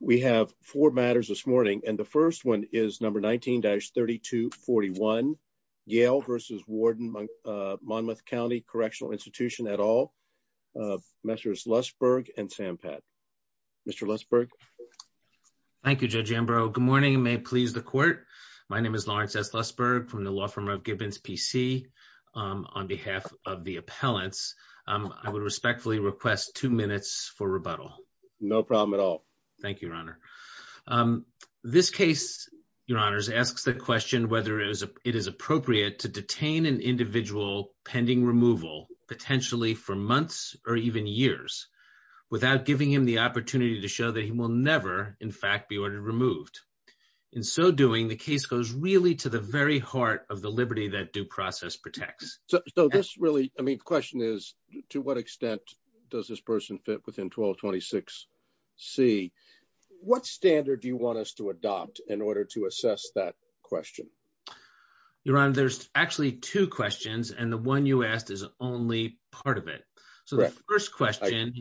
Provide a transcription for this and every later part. We have four matters this morning and the first one is number 19-3241 Yale v. Warden Monmouth County Correctional Institution et al. Messrs. Lussberg and Sampat. Mr. Lussberg. Thank you Judge Ambrose. Good morning and may it please the court. My name is Lawrence S. Lussberg from the law firm of Gibbons PC. On behalf of the No problem at all. Thank you your honor. This case your honors asks the question whether it is appropriate to detain an individual pending removal potentially for months or even years without giving him the opportunity to show that he will never in fact be ordered removed. In so doing the case goes really to the very heart of the liberty that due process protects. So this is a question that I think is really important to answer. The question is whether a person fits within 1226C. What standard do you want us to adopt in order to assess that question? Your honor there's actually two questions and the one you asked is only part of it. So the first question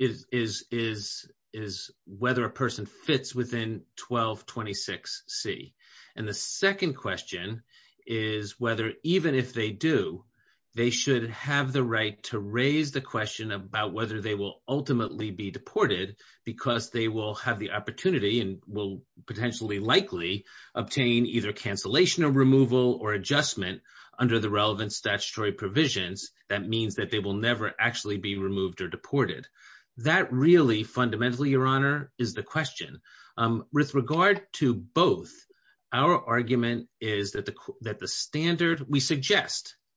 is whether a person fits within 1226C. And the second question is whether even if they do they should have the right to raise the question about whether they will ultimately be deported because they will have the opportunity and will potentially likely obtain either cancellation or removal or adjustment under the relevant statutory provisions. That means that they will never actually be removed or deported. That really fundamentally your honor is the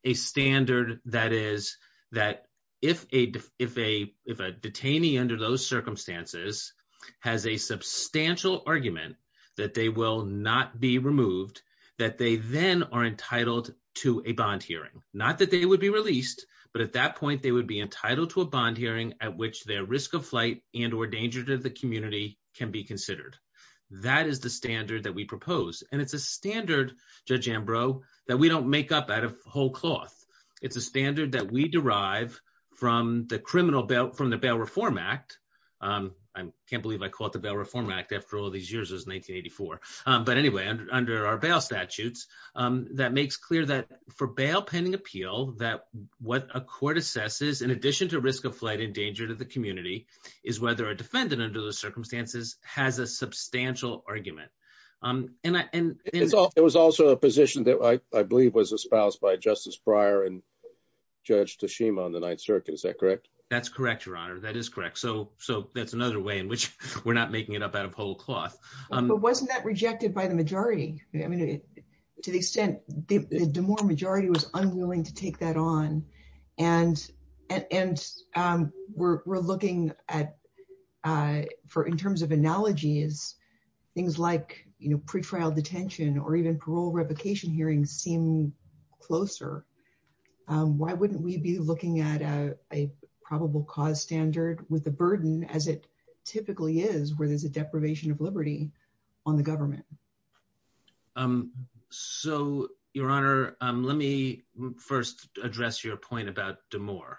a standard that is that if a if a if a detainee under those circumstances has a substantial argument that they will not be removed that they then are entitled to a bond hearing. Not that they would be released but at that point they would be entitled to a bond hearing at which their risk of flight and or danger to the community can be considered. That is the standard that we propose and it's a standard Judge Ambrose that we don't make up out of whole cloth. It's a standard that we derive from the criminal bail from the Bail Reform Act. I can't believe I call it the Bail Reform Act after all these years it was 1984. But anyway under our bail statutes that makes clear that for bail pending appeal that what a court assesses in addition to risk of flight and danger to the community is whether a defendant under those circumstances has a substantial argument. It was also a position that I believe was espoused by Justice Breyer and Judge Tashima on the 9th circuit is that correct? That's correct your honor that is correct so so that's another way in which we're not making it up out of whole cloth. But wasn't that rejected by the majority? I mean to the extent the the more majority was unwilling to take that on and and we're looking at for in terms of analogies things like you know pre-trial detention or even parole replication hearings seem closer. Why wouldn't we be looking at a a probable cause standard with the burden as it typically is where there's a deprivation of liberty on the government? So your honor let me first address your point about DeMoor.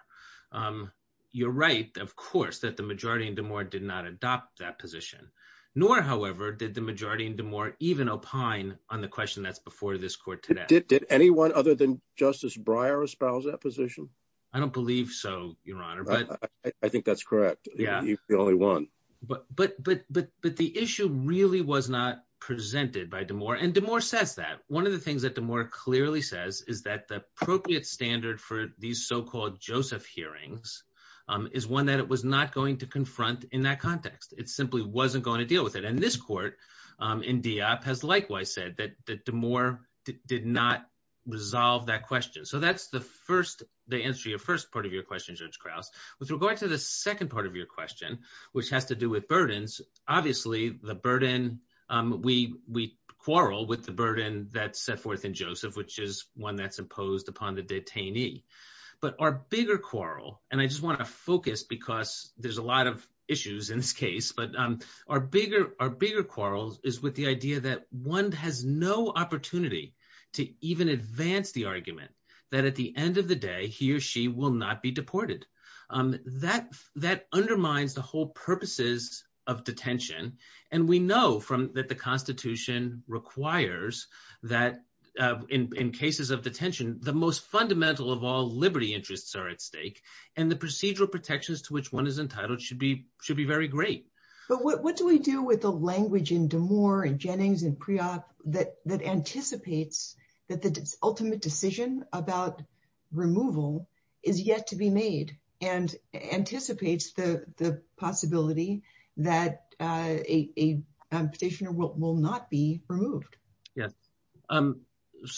You're right of course that the majority in DeMoor did not adopt that position nor however did the majority in DeMoor even opine on the question that's before this court today. Did anyone other than Justice Breyer espouse that position? I don't believe so your honor but I think that's correct yeah he's the only one. But but but but the issue really was not presented by DeMoor and DeMoor says that. One of the things that DeMoor clearly says is that the appropriate standard for these so-called Joseph hearings is one that it was not going to confront in that context. It simply wasn't going to deal with it and this court in Diop has likewise said that that DeMoor did not resolve that question. So that's the first the answer to your first part of your question Judge Krauss. With regard to the second part of your question which has to do with burdens obviously the burden we we quarrel with the burden that's set forth in Joseph which is one that's imposed upon the detainee but our bigger quarrel and I just want to focus because there's a lot of issues in this case but our bigger our bigger quarrels is with the idea that one has no opportunity to even advance the argument that at the end of the day he or she will not be deported that that undermines the whole purposes of detention and we know from that the Constitution requires that in in cases of detention the most fundamental of all liberty interests are at stake and the procedural protections to which one is entitled should be should be very great. But what do we do with the language in DeMoor and Jennings and Priop that that anticipates that the ultimate decision about removal is yet to be made and anticipates the the possibility that a a petitioner will not be removed? Yes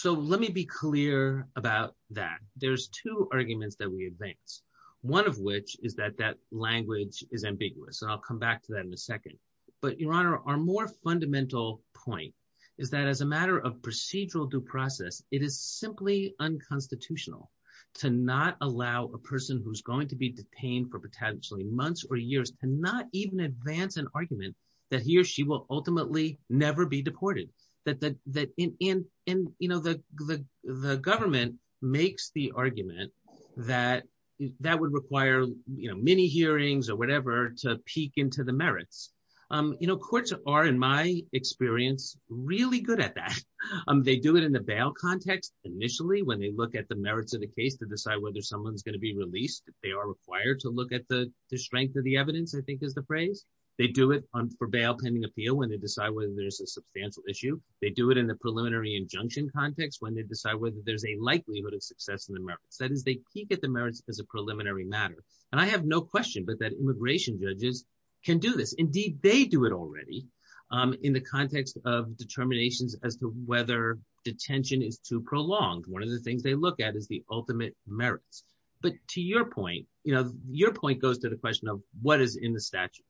so let me be clear about that. There's two arguments that we advance one of which is that that language is ambiguous and I'll come back to that in a second but your honor our more fundamental point is that as a matter of procedural due process it is simply unconstitutional to not allow a person who's going to be detained for potentially months or years to not even advance an argument that he or she will ultimately never be deported that that in in in you know the the government makes the argument that that would require you know mini hearings or whatever to peek into the merits. You know courts are in my experience really good at that. They do it in the bail context initially when they look at the merits of the case to decide whether someone's going to be released if they are required to look at the the strength of the evidence I think is the phrase. They do it on for bail pending appeal when they decide whether there's a substantial issue. They do it in the preliminary injunction context when they decide whether there's a likelihood of success in the merits. Then they peek at the merits as a immigration judges can do this. Indeed they do it already um in the context of determinations as to whether detention is too prolonged. One of the things they look at is the ultimate merits but to your point you know your point goes to the question of what is in the statute.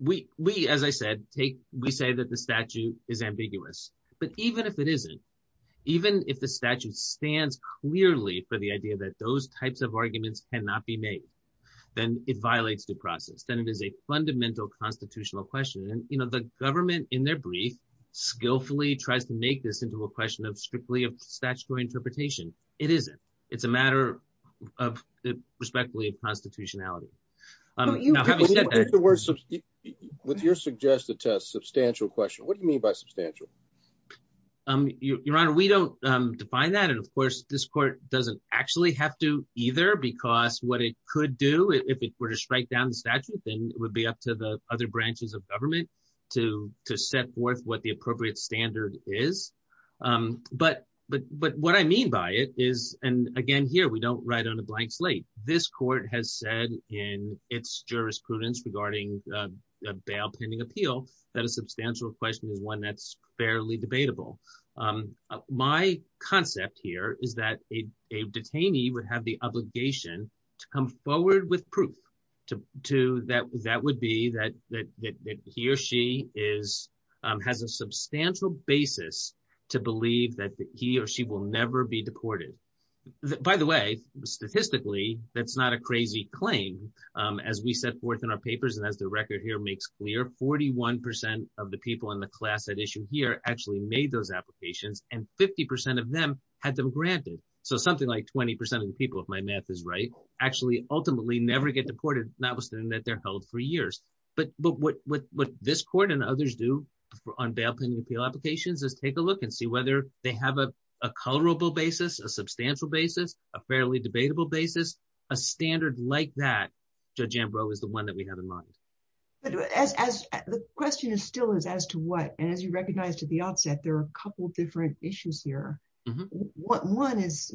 We we as I said take we say that the statute is ambiguous but even if it isn't even if the statute stands clearly for the idea that those types of arguments cannot be made then it violates the process. Then it is a fundamental constitutional question and you know the government in their brief skillfully tries to make this into a question of strictly a statutory interpretation. It isn't. It's a matter of the respectfully of constitutionality. Would your suggested test substantial question? What do you mean by substantial? Your honor we don't define that and of course this court doesn't actually have to either because what it could do if it were to strike down the statute thing would be up to the other branches of government to to set forth what the appropriate standard is. But but but what I mean by it is and again here we don't write on a blank slate. This court has said in its jurisprudence regarding bail pending appeal that a substantial question is one that's fairly debatable. My concept here is that a detainee would have the obligation to come forward with proof to to that that would be that that he or she is has a substantial basis to believe that he or she will never be deported. By the way statistically that's not a crazy claim as we set forth in our papers and as record here makes clear 41 percent of the people in the class that issue here actually made those applications and 50 percent of them had them granted. So something like 20 percent of the people if my math is right actually ultimately never get deported notwithstanding that they're held for years. But but what what this court and others do on bail pending appeal applications is take a look and see whether they have a a colorable basis, a substantial basis, a fairly debatable basis, a standard like that Judge Ambrose is the one that we have in mind. But as the question is still is as to what and as you recognized at the outset there are a couple different issues here. What one is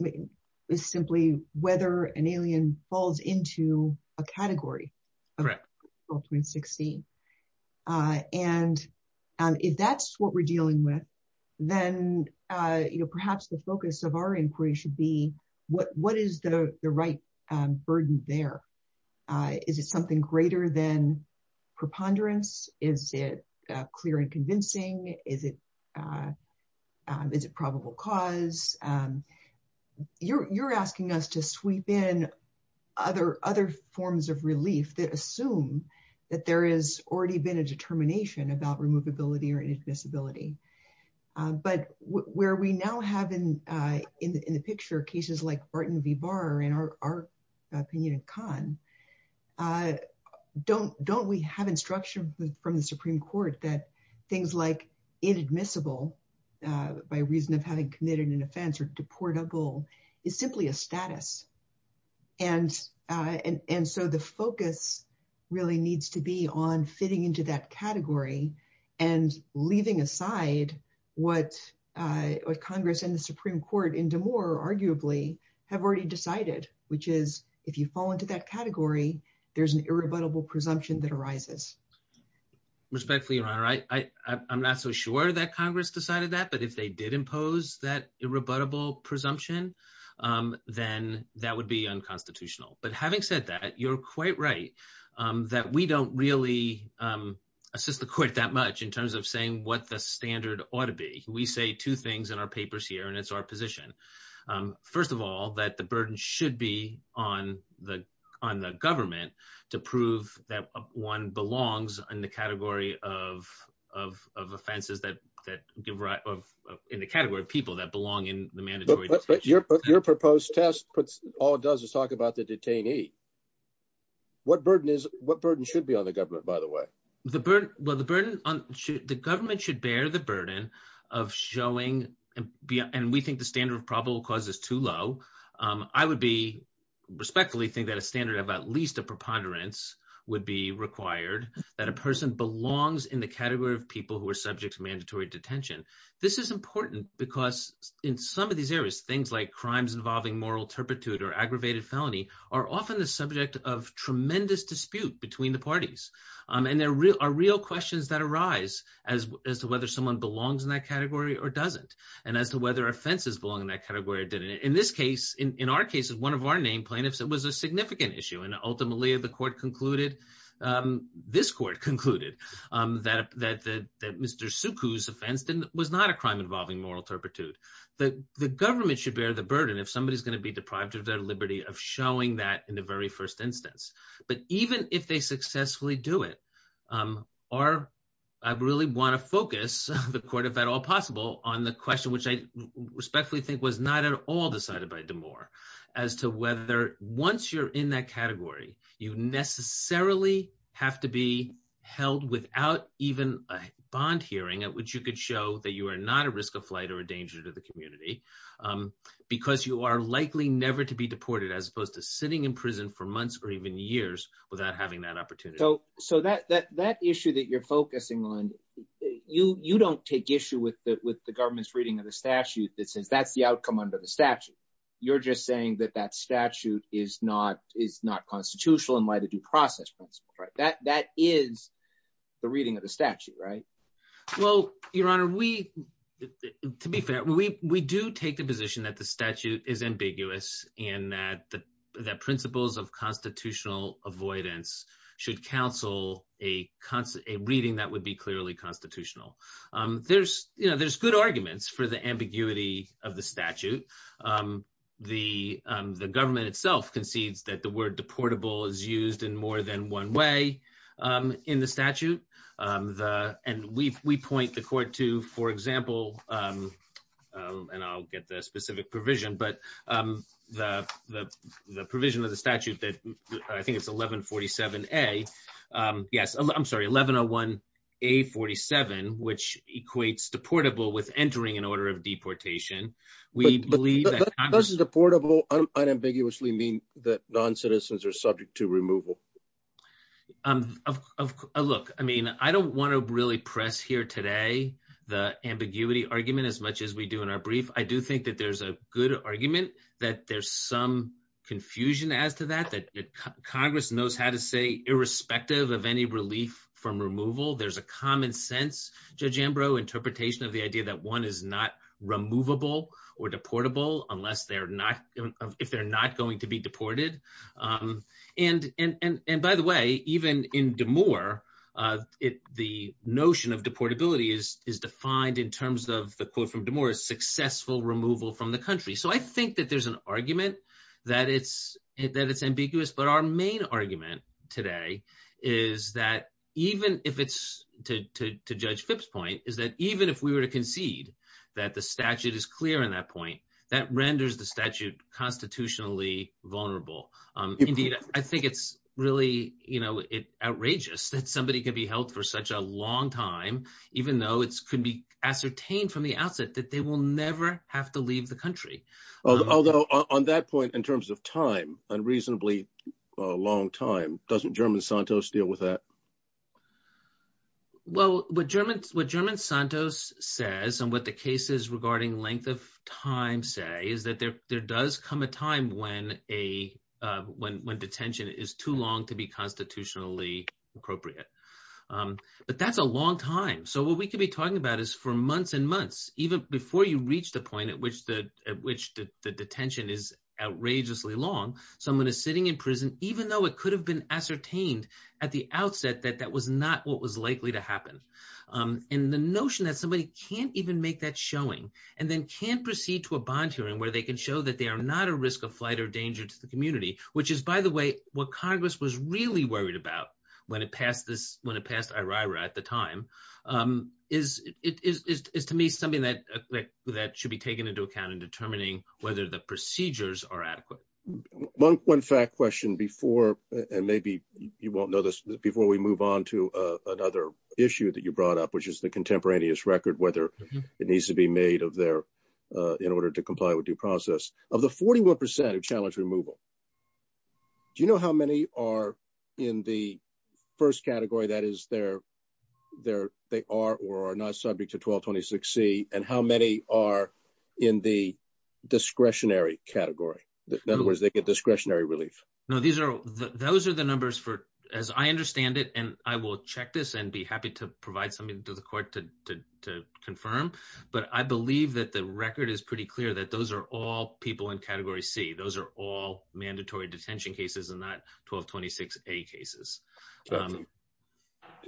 is simply whether an alien falls into a category. Correct. Ultimate 16. And if that's what we're dealing with then you know perhaps the focus of our inquiry should be what what is the the right burden there? Is it something greater than preponderance? Is it clear and convincing? Is it is it probable cause? You're you're asking us to sweep in other other forms of relief that assume that there is already been a determination about where we now have in in the picture cases like Barton v. Barr and our our opinion of Khan. Don't don't we have instruction from the Supreme Court that things like inadmissible by reason of having committed an offense or deportable is simply a status. And and so the Congress and the Supreme Court in DeMoore arguably have already decided which is if you fall into that category there's an irrebuttable presumption that arises. Respectfully your honor I I'm not so sure that Congress decided that but if they did impose that irrebuttable presumption then that would be unconstitutional. But having said that you're quite right that we don't really assist the court that much in terms of saying what the standard ought to be. We say two things in our papers here and it's our position. First of all that the burden should be on the on the government to prove that one belongs in the category of of of offenses that that give right of in the category of people that belong in the mandatory. But your but your proposed test puts all it does is talk about the detainee. What burden is what burden should be on the government by the way? The burden well the burden on the government should bear the burden of showing and be and we think the standard of probable cause is too low. I would be respectfully think that a standard of at least a preponderance would be required that a person belongs in the category of people who are subjects mandatory detention. This is important because in some of these areas things like crimes involving moral turpitude or aggravated felony are often the subject of are real questions that arise as as to whether someone belongs in that category or doesn't and as to whether offenses belong in that category or didn't. In this case in our case of one of our named plaintiffs it was a significant issue and ultimately the court concluded this court concluded that that that Mr. Suku's offense was not a crime involving moral turpitude. But the government should bear the burden if somebody's going to be deprived of their liberty of showing that in the very first instance. But even if they successfully do it are I really want to focus the court if at all possible on the question which I especially think was not at all decided by DeMoor as to whether once you're in that category you necessarily have to be held without even a bond hearing at which you could show that you are not a risk of flight or a danger to the community because you are likely never to be deported as opposed to sitting in prison for months or even years without having that opportunity. So so that that that issue that you're focusing on you you don't take issue with the with the government's reading of the statute that says that's the outcome under the statute you're just saying that that statute is not it's not constitutional and by the due process principle right that that is the reading of the we do take the position that the statute is ambiguous and that the principles of constitutional avoidance should counsel a reading that would be clearly constitutional. There's you know there's good arguments for the ambiguity of the statute. The government itself concedes that the word deportable is used in more than one way in the statute and we point the court to for example and I'll get the specific provision but the the the provision of the statute that I think it's 1147 a yes I'm sorry 1101 a 47 which equates deportable with entering an order of deportation. We believe that this is a portable unambiguously mean that non-citizens are subject to removal. Look I mean I don't want to really press here today the ambiguity argument as much as we do in our brief I do think that there's a good argument that there's some confusion as to that that Congress knows how to say irrespective of any relief from removal there's a common sense Judge Ambrose interpretation of the idea that one is not removable or deportable unless they're not if they're not going to be deported um and and and by the way even in DeMoore uh it the notion of deportability is is defined in terms of the quote from DeMoore successful removal from the country so I think that there's an argument that it's that it's ambiguous but our main argument today is that even if it's to to Judge Fipp's point is that even if we were to concede that the statute is clear in that point that renders the statute constitutionally vulnerable um indeed I think it's really you know it outrageous that somebody could be held for such a long time even though it could be ascertained from the outset that they will never have to leave the country although on that point in terms of time unreasonably uh long time doesn't German Santos deal with that well what German what German Santos says and what the cases regarding length of time say is that there there does come a time when a uh when when detention is too long to be constitutionally appropriate um but that's a long time so what we could be talking about is for months and months even before you reach the point at which the at which the detention is at the outset that that was not what was likely to happen um and the notion that somebody can't even make that showing and then can't proceed to a bond hearing where they can show that they are not a risk of flight or danger to the community which is by the way what Congress was really worried about when it passed this when it passed IRA at the time um is it is is to me something that that should be taken into account in determining whether the procedures are adequate one fact question before and maybe you won't know this before we move on to uh another issue that you brought up which is the contemporaneous record whether it needs to be made of their uh in order to comply with due process of the 41 percent of challenge removal do you know how many are in the first category that is their their they are or are not subject to 1226 c and how many are in the discretionary category in other words they get discretionary relief no these are those are the numbers for as I understand it and I will check this and be happy to provide something to the court to to to confirm but I believe that the record is pretty clear that those are all people in category c those are all mandatory detention cases and not 1226 a cases um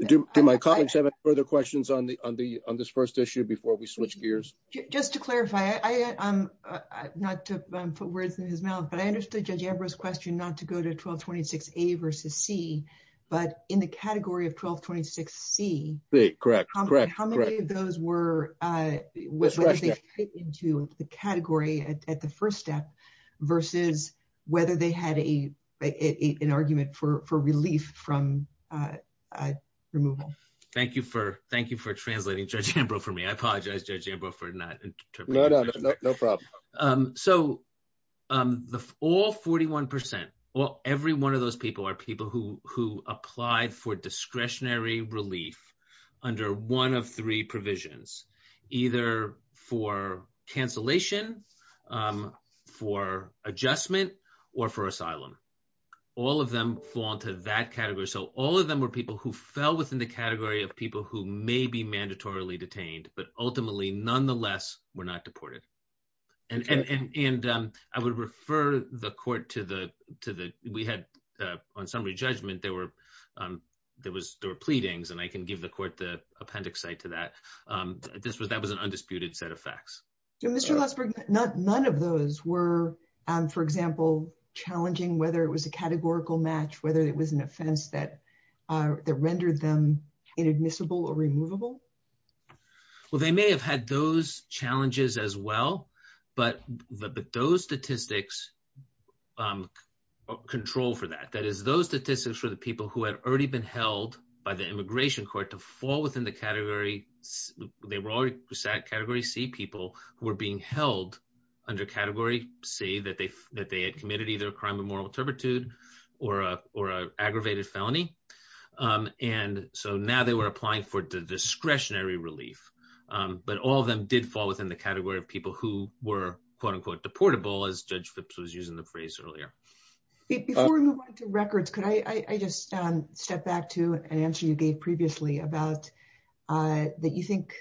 do my colleagues have any further questions on the on the on this first issue before we switch gears just to clarify I I'm not to um put words in his mouth but I understood Judge Ambrose's question not to go to 1226 a versus c but in the category of 1226 c c correct how many of those were uh with into the category at the first step versus whether they had a a an argument for for relief from uh removal thank you for thank you for translating Judge Ambrose for me I apologize Judge Ambrose no no no problem um so um the all 41 percent well every one of those people are people who who applied for discretionary relief under one of three provisions either for cancellation for adjustment or for asylum all of them fall into that category so all of them were people who fell within the category of people who may be mandatorily detained but ultimately nonetheless were not deported and and and um I would refer the court to the to the we had uh on Sunday judgment there were um there was there were pleadings and I can give the court the appendix site to that um this was that was an undisputed set of facts and Mr. Rothberg not none of those were um for example challenging whether it was a categorical match whether it was an offense that uh that rendered them inadmissible or removable well they may have had those challenges as well but but those statistics um control for that that is those statistics for the people who had already been held by the immigration court to fall within the category they were already category c people who were being held under category c that they that they had committed either a crime of moral turpitude or a or a aggravated felony um and so now they were applying for the discretionary relief um but all of them did fall within the category of people who were quote-unquote deportable as Judge Phipps was using the phrase earlier before we went to records could I I just um step back to an answer you gave previously about uh that you think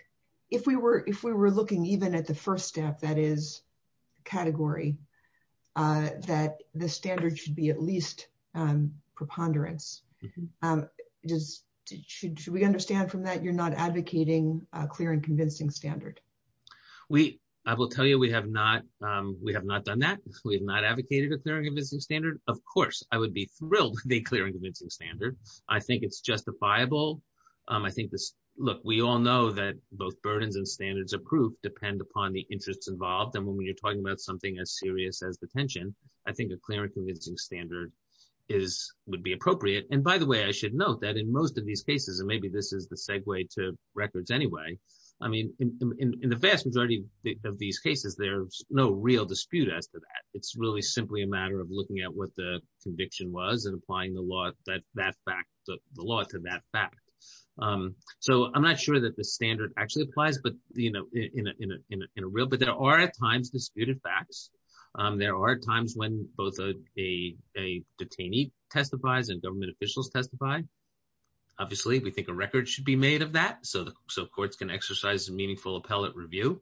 if we were if we were looking even at the first step that is category uh that the standard should be at least um preponderance um just should should we understand from that you're not advocating a clear and convincing standard we I will tell you we have not um we have not done that we have not advocated a clear and convincing standard of course I would be thrilled to be clear and convincing standard I think it's justifiable um I think this look we all know that both burdens and standards of proof depend upon the interests involved and when you're talking about something as serious as detention I think a clear and convincing standard is would be appropriate and by the way I should note that in most of these cases and maybe this is the segue to records anyway I mean in in the vast majority of these cases there's no real dispute after that it's really simply a matter of looking at what the conviction was and applying the law that that fact the law to that fact um so I'm not sure that the standard actually applies but you know in a in a in a real but there are at times disputed facts um there are times when both a a detainee testifies and government officials testify obviously we think a record should be made of that so so courts can exercise a meaningful appellate review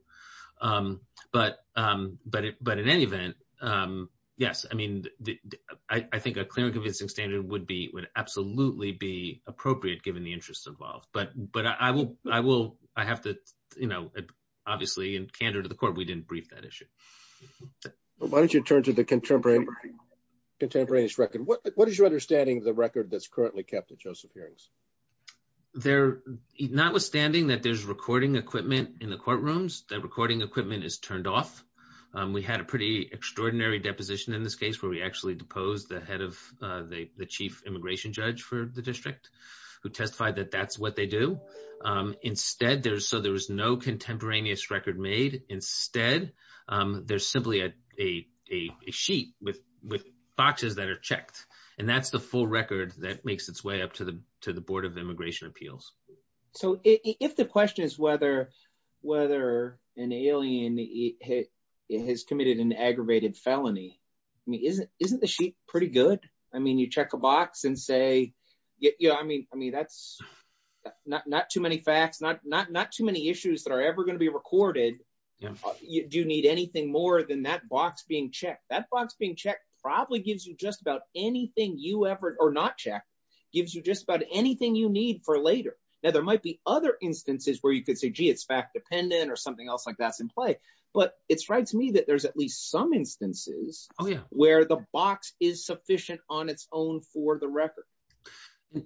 um but um but but in any event um yes I mean I think a clear convincing standard would be would absolutely be appropriate given the interests involved but but I will I will I have to you know obviously in candor to the court we didn't brief that issue well why don't you turn to the contemporary contemporaneous record what is your understanding of the record that's currently kept at Joseph Hearings there notwithstanding that there's recording equipment in the courtrooms the pretty extraordinary deposition in this case where we actually deposed the head of the the chief immigration judge for the district who testified that that's what they do um instead there's so there was no contemporaneous record made instead um there's simply a a a sheet with with boxes that are checked and that's the full record that makes its way up to the to the board of immigration appeals so if the question is whether whether an alien has committed an aggravated felony I mean isn't isn't the sheet pretty good I mean you check a box and say yeah I mean I mean that's not not too many facts not not not too many issues that are ever going to be recorded do you need anything more than that box being checked that box being checked probably gives you just about anything you ever or not check gives you just about anything you need for later now there might be other instances where you could say gee it's fact dependent or something else like that's in play but it strikes me that there's at least some instances oh yeah where the box is sufficient on its own for the record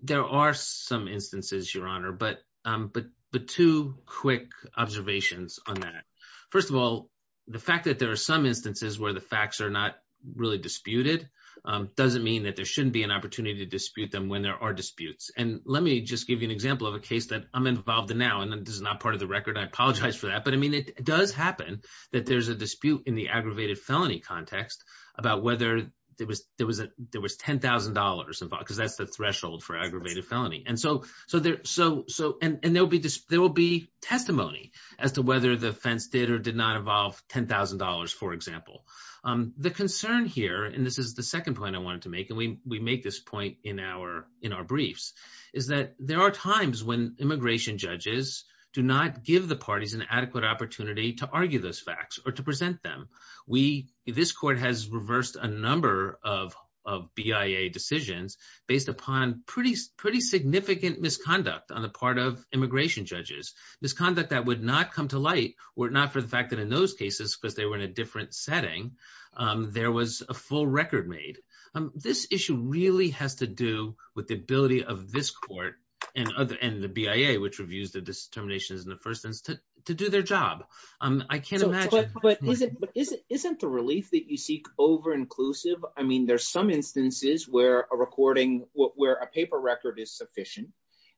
there are some instances your honor but um but the two quick observations on that first of all the fact that there are some instances where the facts are not really disputed um doesn't mean that there shouldn't be an opportunity to dispute them when there are disputes and let me just give you an example of a case that I'm involved in now and then this is not part of the record I apologize for that but I mean it does happen that there's a dispute in the aggravated felony context about whether there was there was a there was ten thousand dollars involved because that's the threshold for aggravated felony and so so there so so and and there'll be this there will be testimony as to whether the offense did or did not involve ten thousand dollars for example um the concern here and this is the second point I wanted to make and we we make this point in our in our briefs is that there are times when immigration judges do not give the parties an adequate opportunity to argue those facts or to present them we this court has reversed a number of of BIA decisions based upon pretty pretty significant misconduct on the part of immigration judges misconduct that would not come to light were not for the fact that in those cases but they were in a different setting um there was a full record made um this issue really has to do with the ability of this court and other and the BIA which reviews the determinations in the first instance to do their job um I can't imagine but but isn't but isn't isn't the release that you seek over inclusive I mean there's some instances where a recording where a paper record is sufficient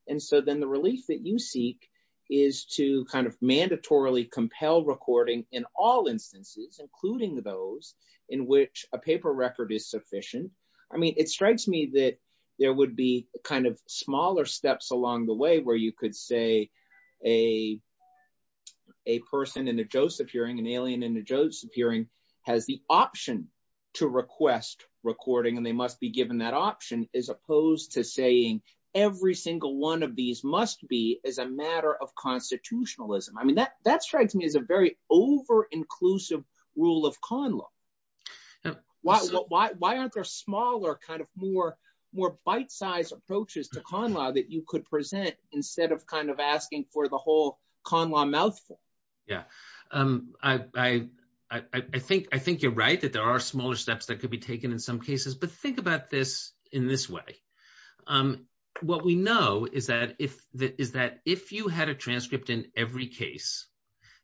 and so then the release that you seek is to kind of mandatorily compel recording in all instances including those in which a paper record is sufficient I mean it strikes me that there would be kind of smaller steps along the way where you could say a a person in a joseph hearing an alien in the joseph hearing has the option to request recording and they must be given that option as opposed to saying every single one of these must be as a matter of constitutionalism I mean that that strikes me as a very over inclusive rule of con law why why why aren't there smaller kind of more more bite-sized approaches to con law that you could present instead of kind of asking for the whole con law mouthful yeah um I I I think I think you're right that there are smaller steps that could be taken in some cases but think about this in this way um what we know is that if that is that if you had a transcript in every case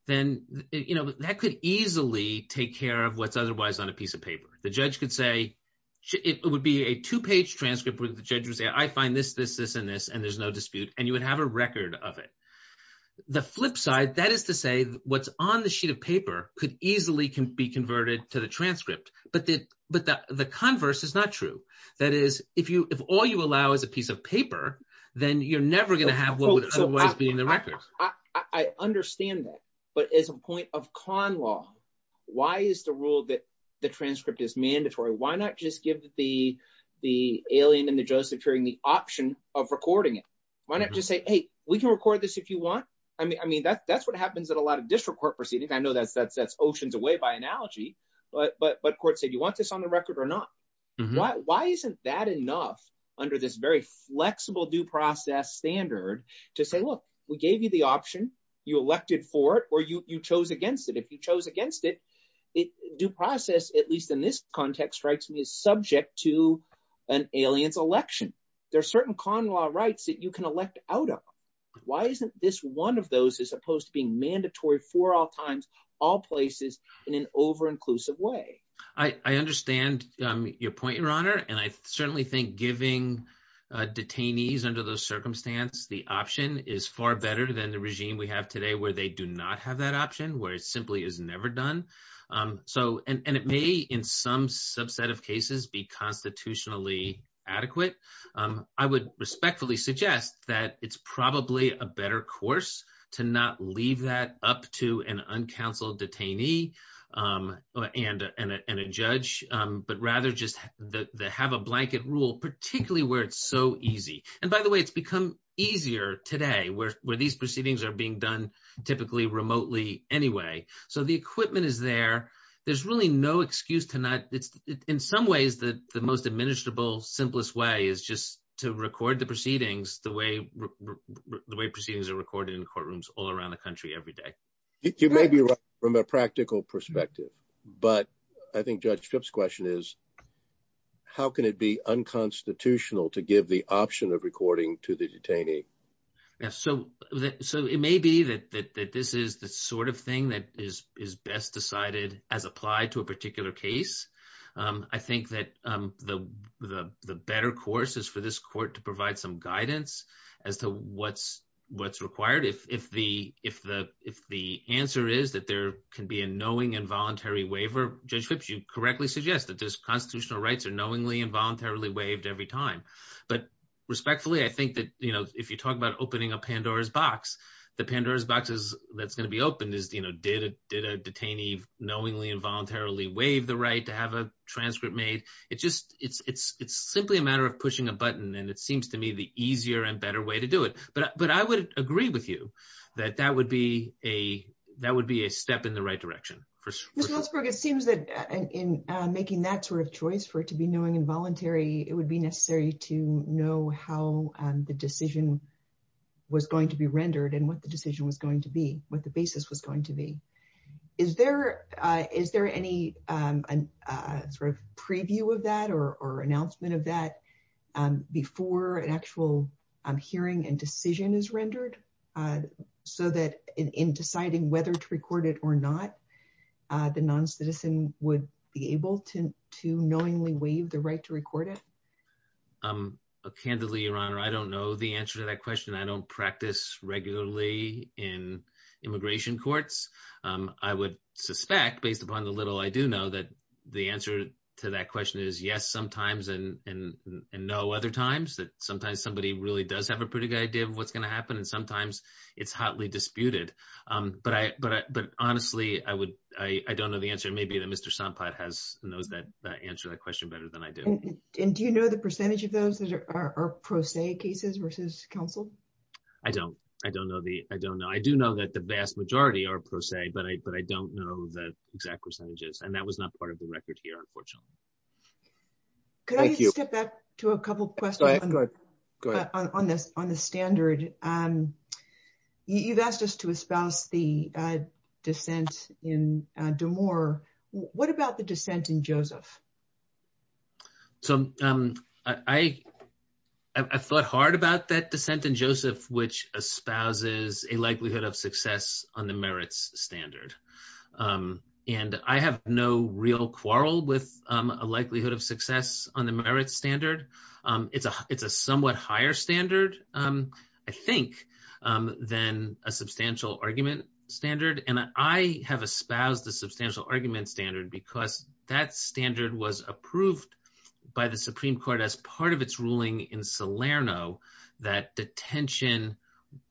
then you know that could easily take care of what's otherwise on a piece of paper the judge could say it would be a two-page transcript where the judge would say I find this this this and this and there's no dispute and you would have a record of it the flip side that is to say what's on the sheet of paper could easily can be converted to the transcript but the but the converse is not true that is if you if all you allow is a piece of paper then you're never going to have what would otherwise be in the records I understand that but as a point of con law why is the rule that the transcript is mandatory why not just give the the alien and the judge securing the option of recording it why not just say hey we can record this if you want I mean I mean that's that's what happens at a lot of district court proceedings I know that that's that's oceans away by analogy but but but court said you want this on the record or not why why isn't that enough under this very flexible due process standard to say look we gave you the option you elected for it or you you chose against it if you chose against it it due process at least in this context strikes me as subject to an alien election there are certain con law rights that you can elect out of why isn't this one of those as opposed to being mandatory for all times all places in an over inclusive way I understand your point your honor and I certainly think giving detainees under those circumstance the option is far better than the regime we have today where they do not have that option where it simply is never done so and it may in some subset of cases be constitutionally adequate I would respectfully suggest that it's probably a better course to not leave that up to an uncounseled detainee and and a judge but rather just the have a blanket rule particularly where it's so easy and by the way it's become easier today where these proceedings are being done typically remotely anyway so the equipment is there there's really no excuse to not it's in some ways that the most administrable simplest way is just to record the proceedings the way the way proceedings are recorded in courtrooms all around the country every day it may be right from a practical perspective but I think Judge Tripp's question is how can it be unconstitutional to give the option of recording to the detainee yes so so it may be that that this is the sort of thing that is is best decided as applied to a particular case I think that the the better course is for this court to provide some guidance as to what's what's required if if the if the if the answer is that there can be a knowing involuntary waiver Judge Tripp you correctly suggest that this constitutional rights are knowingly involuntarily waived every time but respectfully I think that you know if you talk about opening a pandora's box the pandora's box is that's going to be open is you know did it did detainee knowingly involuntarily waive the right to have a transcript made it just it's it's it's simply a matter of pushing a button and it seems to me the easier and better way to do it but but I would agree with you that that would be a that would be a step in the right direction it seems that in making that sort of choice for it to be knowing involuntary it would be necessary to know how the decision was going to be rendered and what the decision was going to be what the is there is there any sort of preview of that or or announcement of that before an actual hearing and decision is rendered so that in deciding whether to record it or not the non-citizen would be able to to knowingly waive the right to record it um candidly your honor I don't know the answer to that question I don't practice regularly in suspect based upon the little I do know that the answer to that question is yes sometimes and and and no other times that sometimes somebody really does have a pretty good idea of what's going to happen and sometimes it's hotly disputed um but I but but honestly I would I I don't know the answer maybe that Mr. Sompot has knows that that answer that question better than I do and do you know the percentage of those that are pro se cases versus counsel I don't I don't know the I don't I do know that the vast majority are pro se but I but I don't know that exact percentage is and that was not part of the record here unfortunately could I just get back to a couple questions on the on the standard um you've asked us to espouse the uh dissent in uh demore what about the dissent in on the merits standard um and I have no real quarrel with um a likelihood of success on the merit standard um it's a it's a somewhat higher standard um I think um than a substantial argument standard and I have espoused the substantial argument standard because that standard was approved by the Supreme Court as part of its ruling in Salerno that detention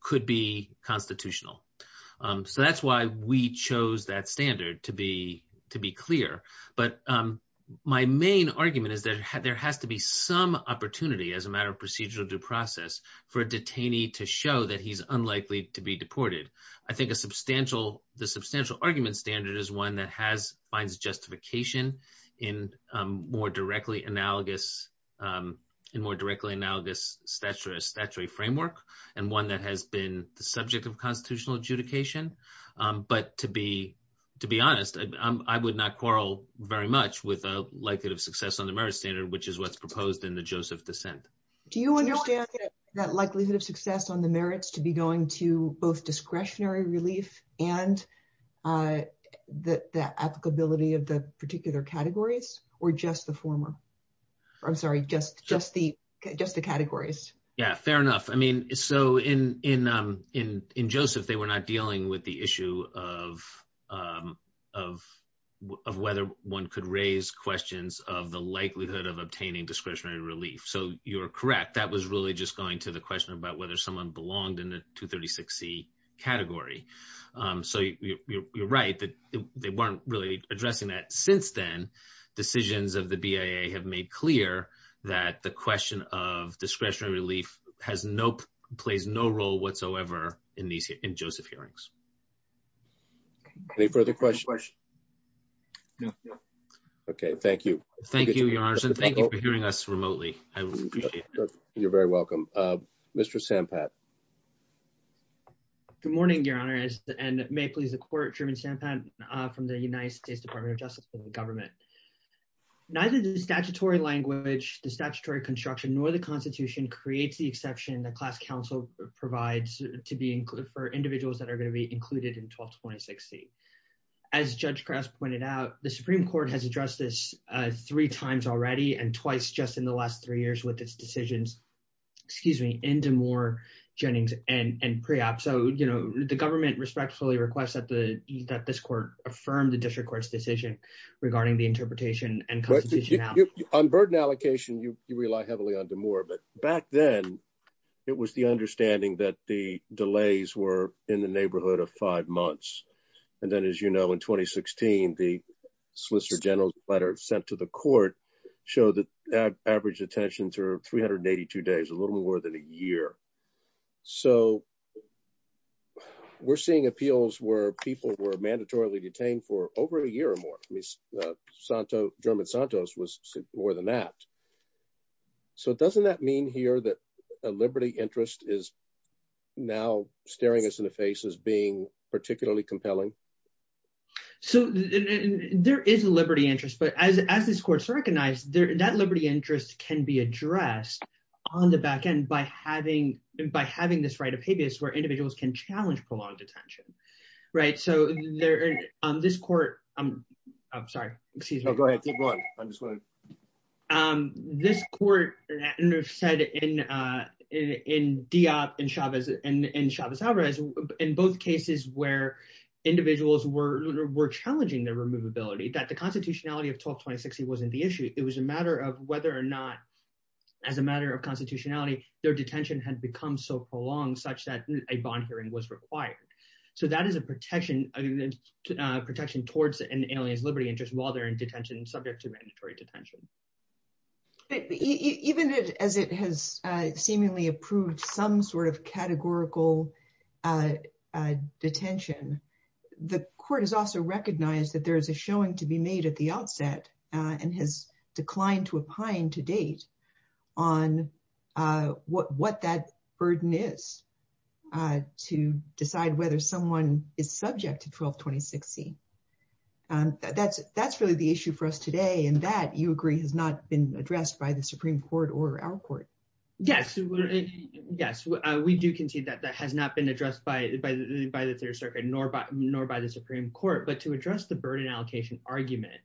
could be constitutional um so that's why we chose that standard to be to be clear but um my main argument is that there has to be some opportunity as a matter of procedural due process for a detainee to show that he's unlikely to be deported I think a substantial the substantial argument standard is one that has finds justification in um more directly analogous um in more directly analogous statutory framework and one that has been the subject of constitutional adjudication um but to be to be honest I would not quarrel very much with the likelihood of success on the merit standard which is what's proposed in the Joseph dissent do you understand that likelihood of success on the merits to be going to both discretionary relief and uh the applicability of the particular categories or just the former I'm sorry just just the just the categories yeah fair enough I mean so in in um in in Joseph they were not dealing with the issue of um of of whether one could raise questions of the likelihood of obtaining discretionary relief so you're correct that was really just going to the question about whether someone belonged in the 236c category um so you're right that they weren't really addressing that since then decisions of the BIA have made clear that the question of discretionary relief has no plays no role whatsoever in these in Joseph hearings any further questions okay thank you thank you your honor and thank you for hearing us remotely I would appreciate it very welcome uh Mr. Sampat good morning your honor and may it please the court German Sampat from the United States Department of Justice and the government neither the statutory language the statutory construction nor the constitution creates the exception that class council provides to be included for individuals that are going to be included in 1226c as Judge Kress pointed out the Supreme Court has addressed this uh three times already and excuse me into more Jennings and and pre-op so you know the government respectfully requests that the that this court affirmed the district court's decision regarding the interpretation and on burden allocation you rely heavily on the more of it back then it was the understanding that the delays were in the neighborhood of five months and then as you know in 2016 the solicitor general's letter sent to the court showed that average detentions are 382 days a little more than a year so we're seeing appeals where people were mandatorily detained for over a year or more I mean Santo German Santos was more than that so doesn't that mean here that a liberty interest is now staring us in the face as being particularly compelling so there is a liberty interest but as as this court's recognized there that liberty interest can be addressed on the back end by having by having this right of habeas where individuals can challenge prolonged detention right so they're on this court I'm I'm sorry excuse me this court said in uh in Diop and Chavez and Chavez-Alvarez in both cases where individuals were were challenging their removability that the constitutionality of 12-2060 wasn't the issue it was a matter of whether or not as a matter of constitutionality their detention had become so prolonged such that a bond hearing was required so that is a protection a protection towards an alien liberty interest while they're in detention subject to mandatory detention even as it has uh seemingly approved some sort of categorical uh uh detention the court has also recognized that there is a showing to be made at the outset and has declined to opine to date on uh what what that burden is uh to decide whether someone is subject to 12-2060 um that's that's really the issue for us today and that you agree has not been addressed by the supreme court or our court yes yes we do concede that that has not addressed by by the third circuit nor by nor by the supreme court but to address the burden allocation argument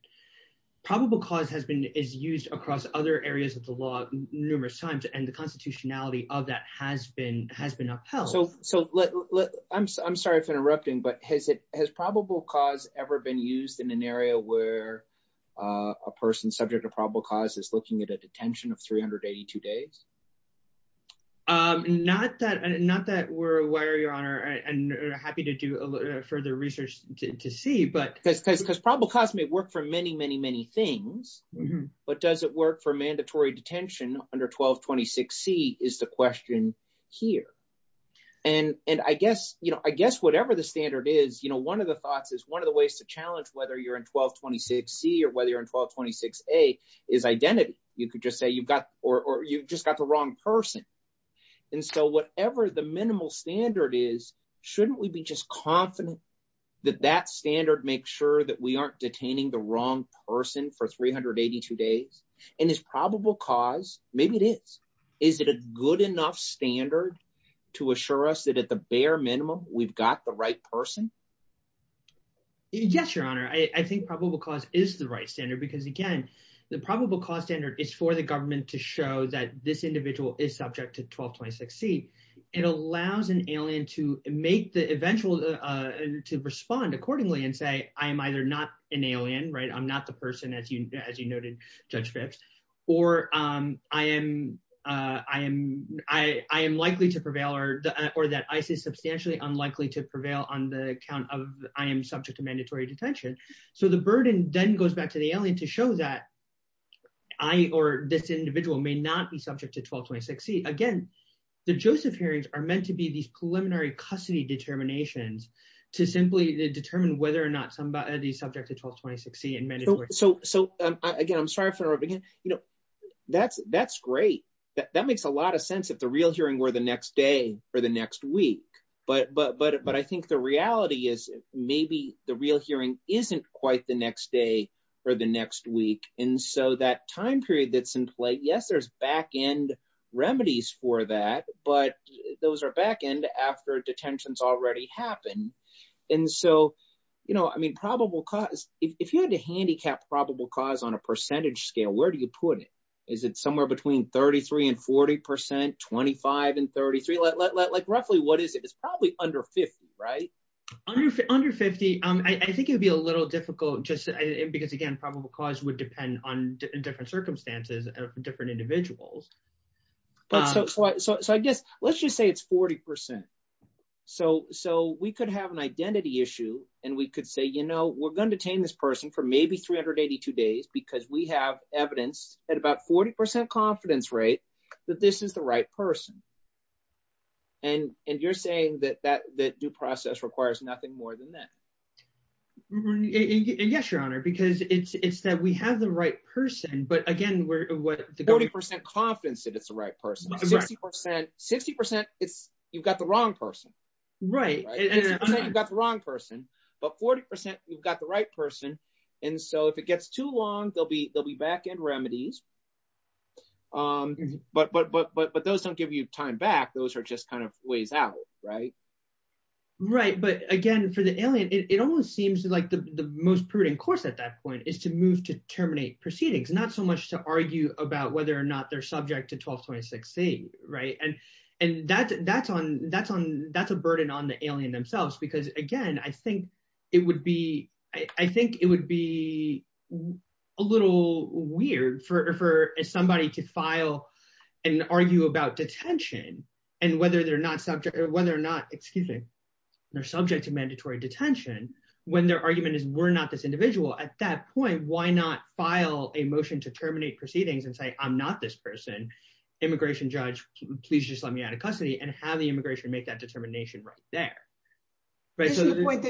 probable cause has been is used across other areas of the law numerous times and the constitutionality of that has been has been upheld so so let let I'm sorry if I'm interrupting but has it has probable cause ever been used in an area where uh a person subject to probable cause is looking at a detention of 382 days um not that not that we're aware your honor and happy to do a little further research to see but because probable cause may work for many many many things but does it work for mandatory detention under 1226 c is the question here and and I guess you know I guess whatever the standard is you know one of the thoughts is one of the ways to challenge whether you're in 1226 c or whether you're in 1226 a is identity you could just say you've got or you've just got the wrong person and so whatever the minimal standard is shouldn't we be just confident that that standard makes sure that we aren't detaining the wrong person for 382 days and it's probable cause maybe it is is it a good enough standard to assure us that at the bare minimum we've got the right person yes your honor I think probable cause is the right standard because again the probable cause standard is for the government to show that this individual is subject to 1226 c it allows an alien to make the eventual uh to respond accordingly and say I'm either not an alien right I'm not the person as you as you noted judge pips or um I am uh I am I I am likely to prevail or or that I say substantially unlikely to prevail on the account of I am subject to mandatory detention so the burden then goes back to the alien to show that I or this individual may not be subject to 1226 c again the joseph hearings are meant to be these preliminary custody determinations to simply determine whether or not to be subject to 1226 c and mandatory so so again I'm sorry for everything you know that's that's great that makes a lot of sense if the real hearing were the next day or the next week but but but I think the reality is maybe the real hearing isn't quite the next day or the next week and so that time period that's in play yes there's back-end remedies for that but those are back-end after detentions already happen and so you know I mean probable cause if you had to handicap probable cause on a percentage scale where do you put it is it somewhere between 33 and 40 percent 25 and 33 like roughly what is it it's probably under 50 right under 50 um I think it'd be a little difficult just because again probable cause would depend on different circumstances and different individuals but so I guess let's just say it's 40 percent so so we could have an identity issue and we could say you know we're going to detain this person for maybe 382 days because we have evidence at about 40 percent confidence rate that this is the right person and and you're saying that that that due process requires nothing more than that yes your honor because it's it's that we have the right person but again we're what the 30 percent confidence if it's the right person 50 percent you've got the wrong person right you've got the wrong person but 40 percent you've got the right person and so if it gets too long they'll be they'll be back-end remedies um but but but but those don't give you time back those are just kind of ways out right right but again for the alien it almost seems like the most prudent course at that point is to move to terminate proceedings not so much to argue about whether or not they're subject to 1226c right and and that's that's on that's on that's a burden on the alien themselves because again I think it would be I think it would be a little weird for for somebody to file and argue about detention and whether they're not subject or whether or not excuse me they're subject to mandatory detention when their argument is we're not this individual at that point why not file a motion to terminate proceedings and say I'm not this person immigration judge please just let me out of custody and have the immigration make that determination right there but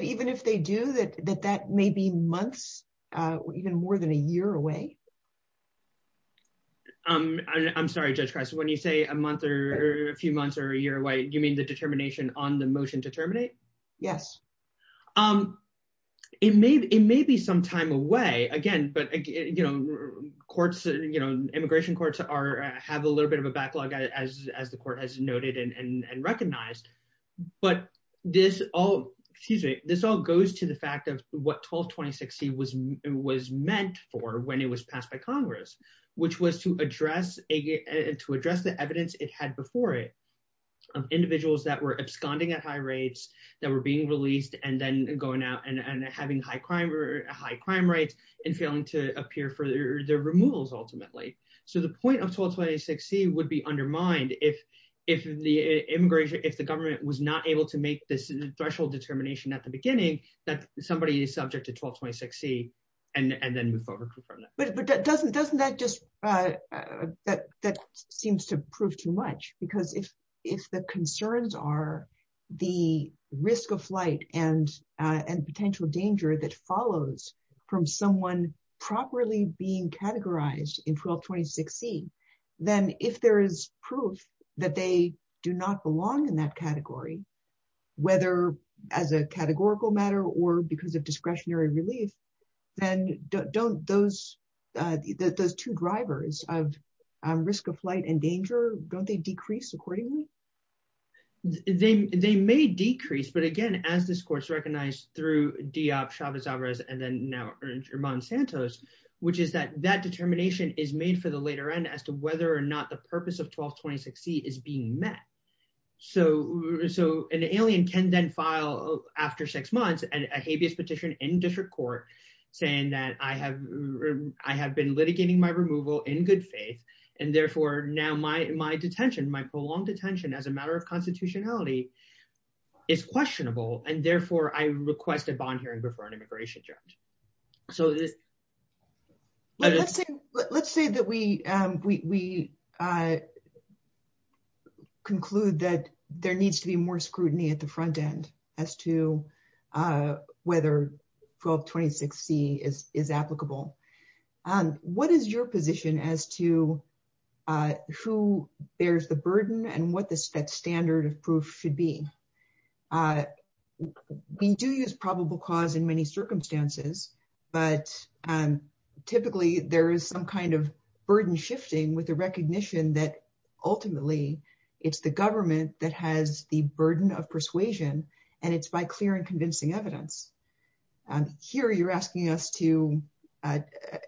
even if they do that that that may be months uh even more than a year away um I'm sorry Judge Cress when you say a month or a few months or a year away you mean the determination on the motion to terminate yes um it may it may be some time away again but you know courts you know immigration courts are have a little bit of a backlog as as the court has noted and and recognized but this all excuse me this all goes to the fact of what 1226c was was meant for when it was passed by congress which was to address a to address the evidence it had before it of individuals that were absconding at high rates that were being released and then going out and and having high crime or high crime rates and failing to appear for their removals ultimately so the point of 1226c would be undermined if if the immigration if the government was not able to make this threshold determination at the beginning that somebody is subject to 1226c and and then move forward from that but but that doesn't doesn't that just uh that that seems to prove too much because if if the concerns are the risk of flight and uh and potential danger that follows from someone properly being categorized in 1226c then if there is proof that they do not belong in that category whether as a categorical matter or because of discretionary relief then don't those those two drivers of risk of flight and danger don't they decrease accordingly they they may decrease but again as this course recognized through diop chavez alvarez and then now erman santos which is that that determination is made for the later end as to whether or not the purpose of 1226c is being met so so an alien can then file after six months and a habeas petition in district court saying that i have i have been litigating my removal in good faith and therefore now my my detention my prolonged detention as a matter of constitutionality is questionable and therefore i request a bond hearing before an immigration judge so let's say let's say that we um we we uh conclude that there needs to be more scrutiny at the front end as to uh whether 1226c is is applicable um what is your position as to uh who bears the burden and what this that standard of being uh we do use probable cause in many circumstances but um typically there is some kind of burden shifting with a recognition that ultimately it's the government that has the burden of persuasion and it's by clear and convincing evidence here you're asking us to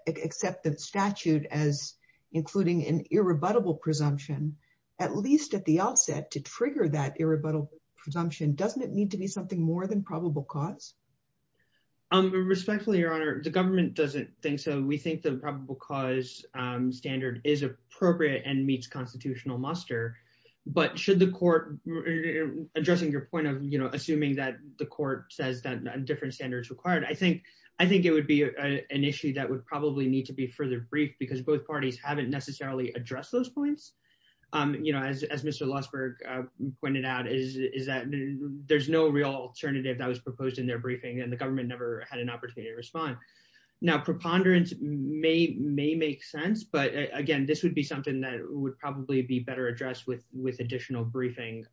accept the statute as including an irrebuttable presumption at least at the outset to trigger that irrebuttable presumption doesn't it need to be something more than probable cause um respectfully your honor the government doesn't think so we think the probable cause um standard is appropriate and meets constitutional muster but should the court addressing your point of you know assuming that the court says that different standards required i think i think it would be a an issue that would probably need to be further briefed because both is that there's no real alternative that was proposed in their briefing and the government never had an opportunity to respond now preponderance may may make sense but again this would be something that would probably be better addressed with with additional briefing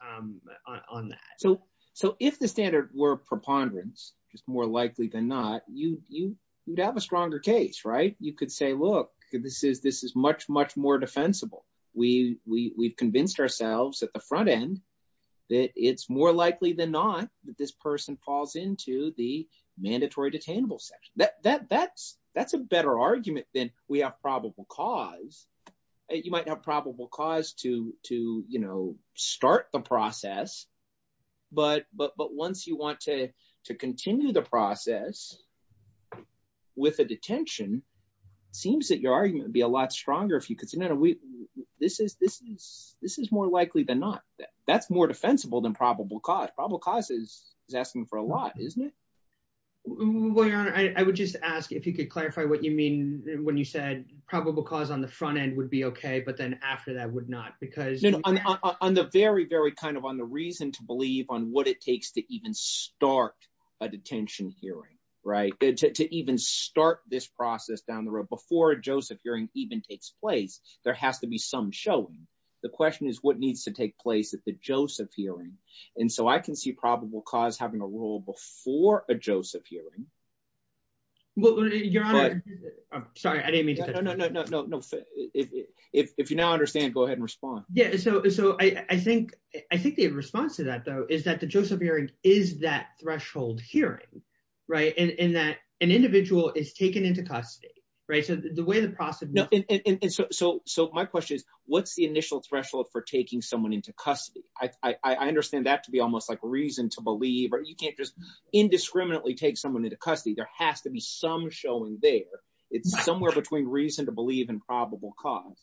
on that so so if the standard were preponderance just more likely than not you you would have a stronger case right you could say look this is this is much much more defensible we we we've at the front end that it's more likely than not that this person falls into the mandatory detainable section that that that's that's a better argument than we have probable cause and you might have probable cause to to you know start the process but but but once you want to to continue the process with a detention seems that your argument would be a lot stronger if you this is this is this is more likely than not that's more defensible than probable cause probable cause is is asking for a lot isn't it well i would just ask if you could clarify what you mean when you said probable cause on the front end would be okay but then after that would not because you know on the very very kind of on the reason to believe on what it takes to even start a detention hearing right to even start this process down the road before a joseph hearing even takes place there has to be some showing the question is what needs to take place at the joseph hearing and so i can see probable cause having a role before a joseph hearing if you now understand go ahead and respond yeah so so i i think i think the response to that though is that the joseph hearing is that threshold hearing right and and that an individual is so so my question is what's the initial threshold for taking someone into custody i i understand that to be almost like reason to believe or you can't just indiscriminately take someone into custody there has to be some showing there it's somewhere between reason to believe and probable cause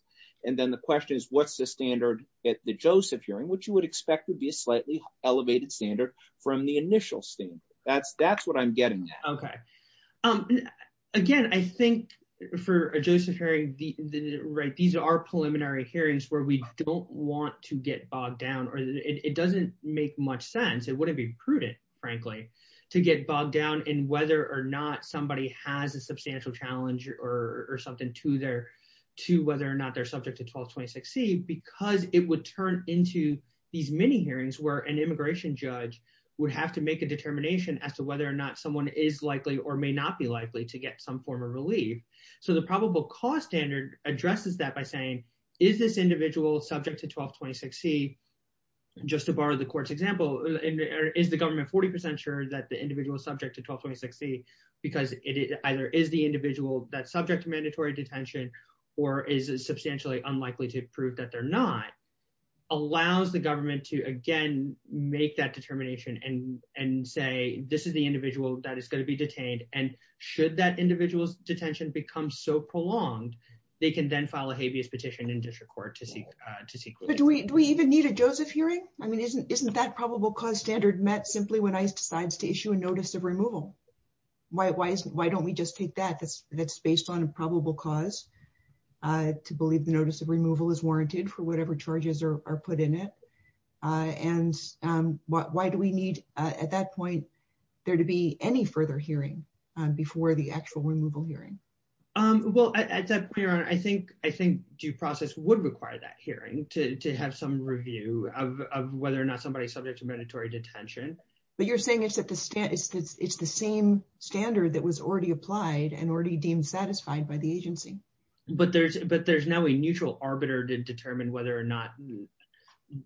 and then the question is what's the standard at the joseph hearing which you would expect would be a slightly elevated standard from the initial standard that's that's what i'm getting okay um again i think for a joseph hearing the right these are preliminary hearings where we don't want to get bogged down or it doesn't make much sense it wouldn't be prudent frankly to get bogged down in whether or not somebody has a substantial challenge or or something to their to whether or not they're subject to 1226c because it would turn into these mini hearings where an immigration judge would have to make a determination as to whether or not someone is likely or may not be likely to get some form of relief so the probable cause standard addresses that by saying is this individual subject to 1226c just to borrow the court's example is the government 40 sure that the individual subject to 1226c because it either is the individual that subject to mandatory detention or is substantially unlikely to prove that they're not allows the government to again make that determination and and say this is the individual that is going to be detained and should that individual's detention become so prolonged they can then file a habeas petition in district court to see uh to see but do we do we even need a joseph hearing i mean isn't isn't that probable cause standard met simply when i decides to issue a notice of removal why why isn't why don't we just take that that's that's based on a probable cause uh to believe the notice of removal is warranted for whatever charges are put in it uh and um why do we need uh at that point there to be any further hearing um before the actual removal hearing um well i i said clear i think i think due process would require that hearing to to have some review of of whether or not somebody's subject to mandatory detention but you're saying it's at the stand it's the same standard that was already applied and already deemed satisfied by the agency but there's but there's now a neutral arbiter to determine whether or not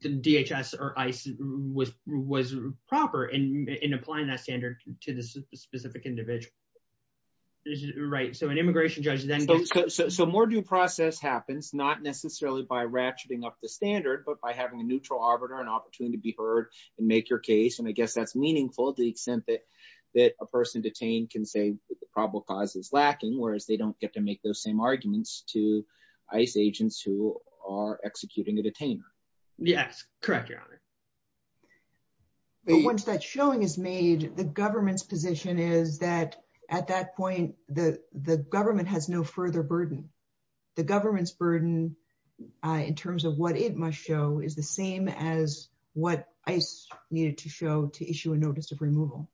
the dhs or was proper in in applying that standard to this specific individual right so an immigration judge then so more due process happens not necessarily by ratcheting up the standard but by having a neutral arbiter an opportunity to be heard and make your case and i guess that's meaningful the extent that that a person detained can say the probable cause is lacking whereas they don't get to make those same arguments to ice agents who are executing a detainer yes correct your honor once that showing is made the government's position is that at that point the the government has no further burden the government's burden in terms of what it must show is the same as what i needed to show to issue a notice of removal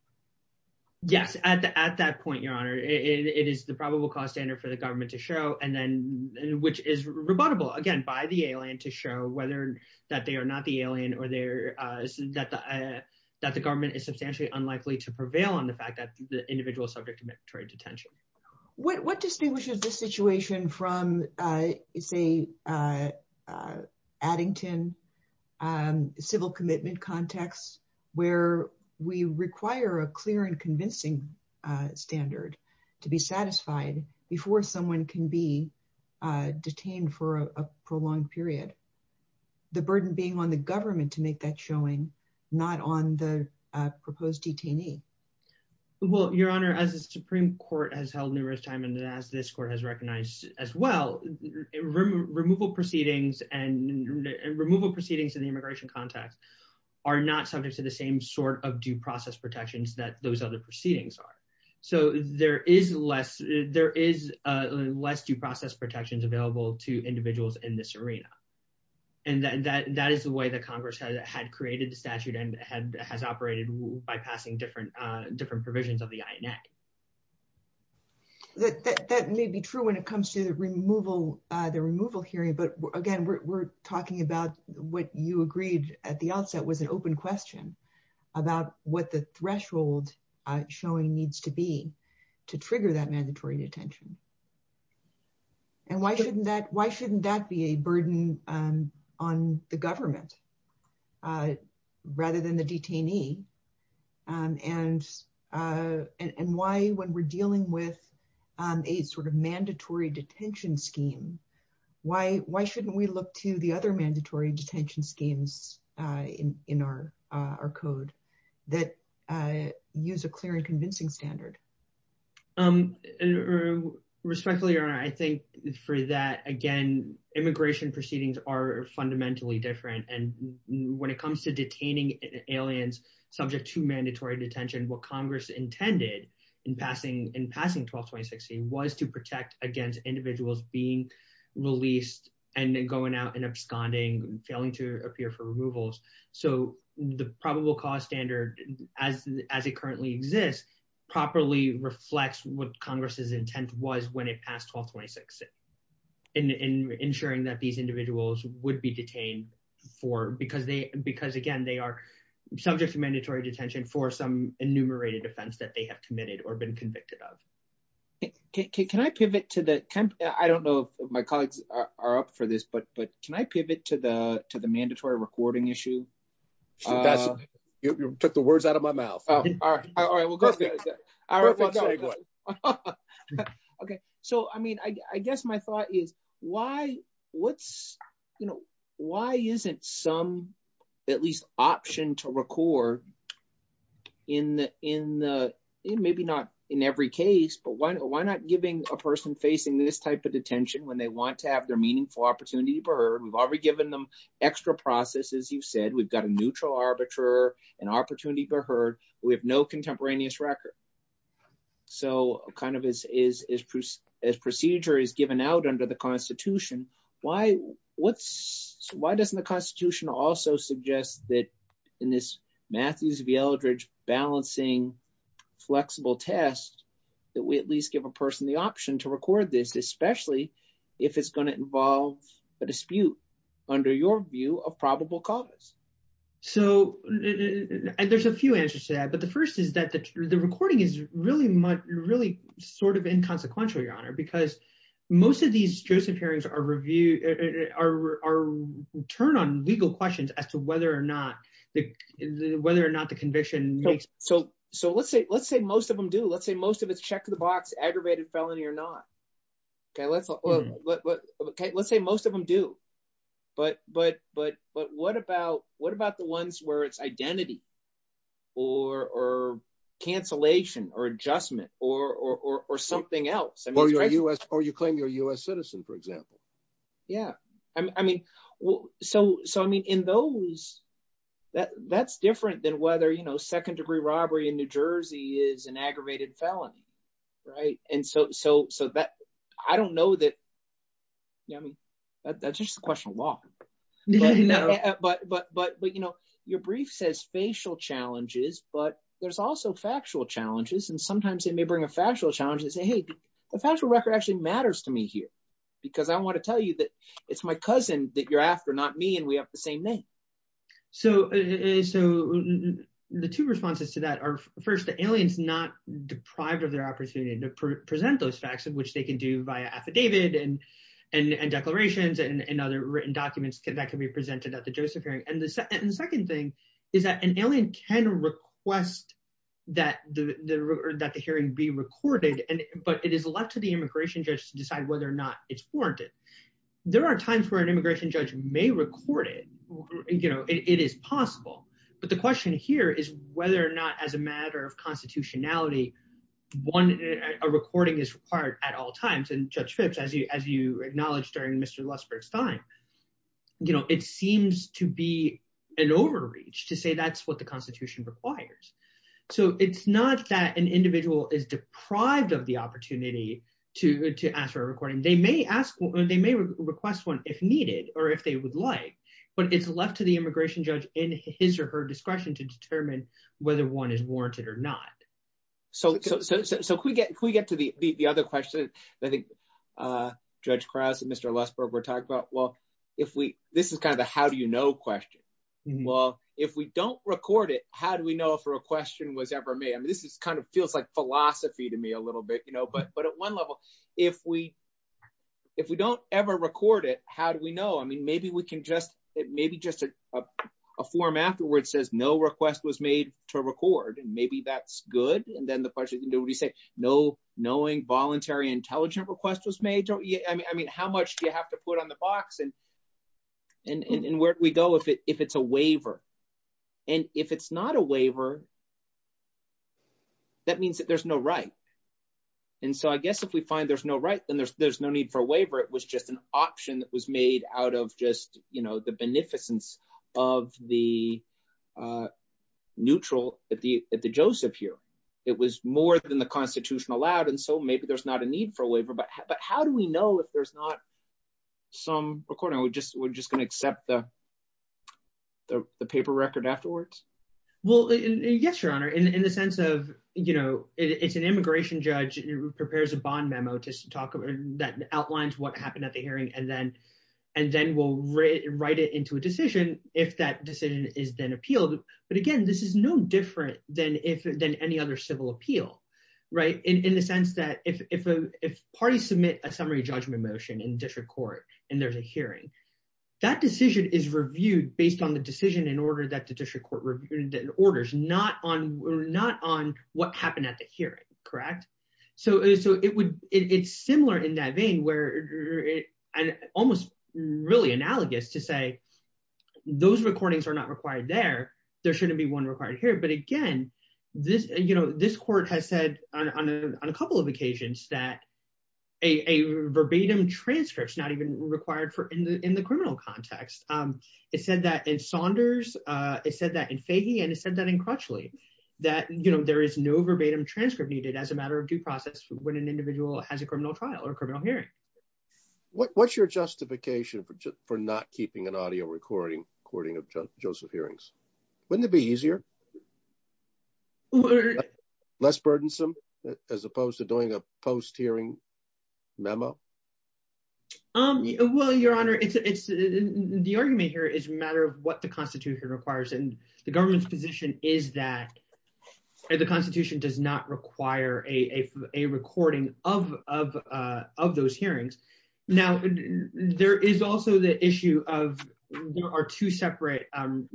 yes at that point your honor it is the probable cause standard for the government to show and then which is rebuttable again by the alien to whether that they are not the alien or they're uh that the uh that the government is substantially unlikely to prevail on the fact that the individual subject to military detention what what distinguishes this situation from uh it's a uh addington um civil commitment context where we require a clear and convincing uh standard to be satisfied before someone can be uh detained for a prolonged period the burden being on the government to make that showing not on the proposed detainee well your honor as the supreme court has held numerous time and as this court has recognized as well removal proceedings and removal proceedings in the immigration context are not subject to the same sort of due process protections that those other protections available to individuals in this arena and that that is the way that congress has had created the statute and had has operated by passing different uh different provisions of the ina that that may be true when it comes to the removal uh the removal hearing but again we're talking about what you agreed at the outset with an open question about what the threshold uh showing needs to be to trigger that mandatory detention and why shouldn't that why shouldn't that be a burden um on the government uh rather than the detainee um and uh and why when we're dealing with um a sort of mandatory detention scheme why why shouldn't we look to the other standard um respectfully or i think for that again immigration proceedings are fundamentally different and when it comes to detaining aliens subject to mandatory detention what congress intended in passing in passing 12-26c was to protect against individuals being released and then going out and absconding failing to appear for removals so the probable cause standard as as it currently exists properly reflects what congress's intent was when it passed 12-26 in ensuring that these individuals would be detained for because they because again they are subject to mandatory detention for some enumerated offense that they have committed or been convicted of can i pivot to the camp i don't know if my colleagues are up for this but can i pivot to the to the mandatory recording issue you put the words out of my mouth all right okay so i mean i guess my thought is why what's you know why isn't some at least option to record in in the in maybe not in every case but why why not giving a person facing this type of opportunity bird we've already given them extra process as you've said we've got a neutral arbiter an opportunity for her we have no contemporaneous record so kind of is is as procedure is given out under the constitution why what's why doesn't the constitution also suggest that in this matthews v eldridge balancing flexible test that we at least give a person the option to record this especially if it's going to involve a dispute under your view a probable cause so there's a few answers to that but the first is that the recording is really much really sort of inconsequential your honor because most of these joseph hearings are review are turn on legal questions as to whether or not the whether or not the conviction makes so so let's say let's say most of them do let's say most of it's check the box aggravated felony or not okay let's look okay let's say most of them do but but but but what about what about the ones where it's identity or or cancellation or adjustment or or or something else or you're a u.s or you claim you're a u.s citizen for example yeah i mean well so so i mean in those that that's different than whether you know second degree robbery in new jersey is an aggravated felony right and so so so that i don't know that i mean that's just a question of law but but but you know your brief says facial challenges but there's also factual challenges and sometimes they may bring a factual challenge and say hey the factual record actually matters to me here because i want to tell you that it's my cousin that you're after not me and we have the same name so so the two responses to that are first the aliens not deprived of their opportunity to present those facts in which they can do via affidavit and and declarations and other written documents that can be presented at the joseph hearing and the second thing is that an alien can request that the that the hearing be recorded and but it is left to the immigration judge to decide whether or not it's warranted there are times where an immigration judge may record it you know it is possible but the question here is whether or not as a matter of constitutionality one a recording is required at all times and judge phipps as you as you acknowledged during mr lustford's time you know it seems to be an overreach to say that's what the constitution requires so it's not that an individual is deprived of the opportunity to to ask for a recording they may ask they may request one if needed or if they would like but it's left to the immigration judge in his or her discretion to determine whether one is warranted or not so so so if we get if we get to the the other question i think uh judge krauss and mr lustford were talking about well if we this is kind of how do you know question well if we don't record it how do we know if a question was ever made i mean this is kind of feels like philosophy to me a little bit you know but but at one level if we if we don't ever record it how do we know i mean maybe we can just it may be just a form afterwards says no request was made to record and maybe that's good and then the question can do what you say no knowing voluntary intelligent request was made don't you i mean i mean how much do you have to put on the box and and and where do we go if it if it's a waiver and if it's not a waiver that means that there's no right and so i guess if we find there's no right then there's there's no need for a waiver it was just an option that was made out of just you know the beneficence of the uh neutral at the at the joseph here it was more than the constitution allowed and so maybe there's not a need for a waiver but but how do we know if there's not some according we just we're just going to accept the the paper record afterwards well yes your honor in the sense of you know it's an immigration judge who prepares a bond memo just to talk about that outlines what happened at the hearing and then and then we'll write it into a decision if that decision is then appealed but again this is no different than if than any other civil appeal right in the sense that if if a if parties submit a summary judgment motion in district court and there's a hearing that decision is reviewed based on the decision in order that the district court reviewed the orders not on not on what happened at the hearing correct so so it would it's similar in that vein where and almost really analogous to say those recordings are not required there there shouldn't be one required here but again this you know this court has said on a couple of occasions that a verbatim transcript is not even required for in the in the criminal context um it said that in saunders uh it said that in fahey and it said that in crutchley that you know there is no verbatim transcript needed as a matter of due process when an individual has a criminal trial or criminal hearing what's your justification for just for not keeping an audio recording recording of joseph hearings wouldn't it be easier or less burdensome as opposed to doing a post hearing memo um well your honor it's the argument here is a matter of what the constitution requires and the government's position is that the constitution does not require a a recording of of uh of those hearings now there is also the issue of there are two separate um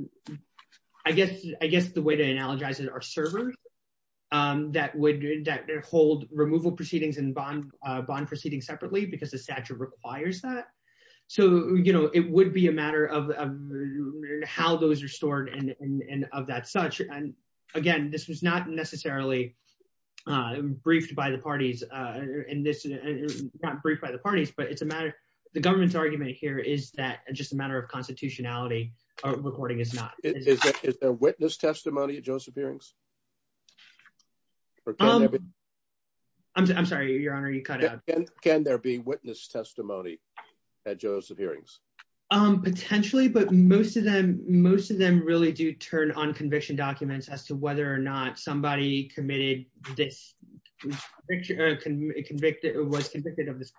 i guess i guess the way to analogize it our server um that would that hold removal proceedings and bond uh bond proceeding separately because the statute requires that so you know it would be a matter of how those are stored and and of that such and again this was not necessarily uh briefed by the parties uh and this is not briefed by the parties but it's a matter the government's argument here is that just a matter of constitutionality a recording is not is there witness testimony joseph hearings i'm sorry your honor you cut out can there be witness testimony at joseph hearings um potentially but most of them most of them really do turn on conviction documents as to whether or not somebody committed this picture convicted or was convicted of this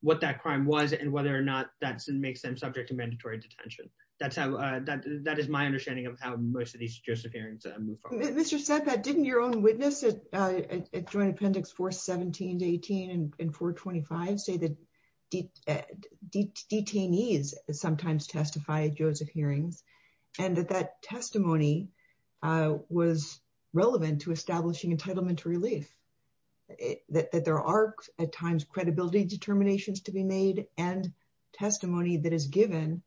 what that crime was and whether or not that makes them subject to mandatory detention that's how uh that that is my understanding of how most of these joseph hearings move forward mr said that didn't your own witness at uh at joint appendix 4 17 18 and 4 25 say that detainees sometimes testify at joseph hearings and that that testimony uh was relevant to to be made and testimony that is given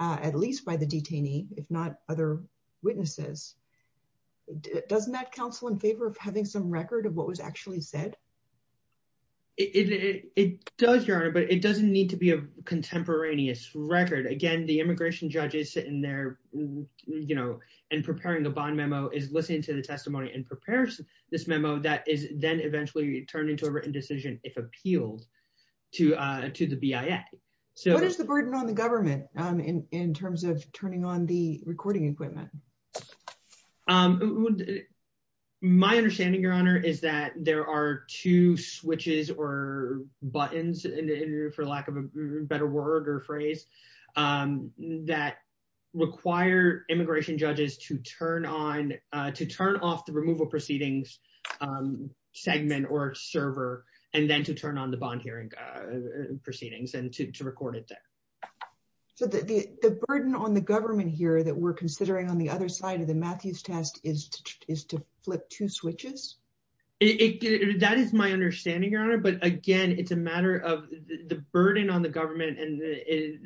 uh at least by the detainee if not other witnesses doesn't that counsel in favor of having some record of what was actually said it does your honor but it doesn't need to be a contemporaneous record again the immigration judge is sitting there you know and preparing the bond memo is listening to the testimony and this memo that is then eventually turned into a written decision if appealed to uh to the bia so what is the burden on the government um in in terms of turning on the recording equipment um my understanding your honor is that there are two switches or buttons in the interview for lack of a better word or phrase um that require immigration judges to turn on uh to turn off removal proceedings um segment or server and then to turn on the bond hearing uh proceedings and to record it so the the burden on the government here that we're considering on the other side of the matthews task is is to flip two switches it that is my understanding your honor but again it's a matter of the burden on the government and the is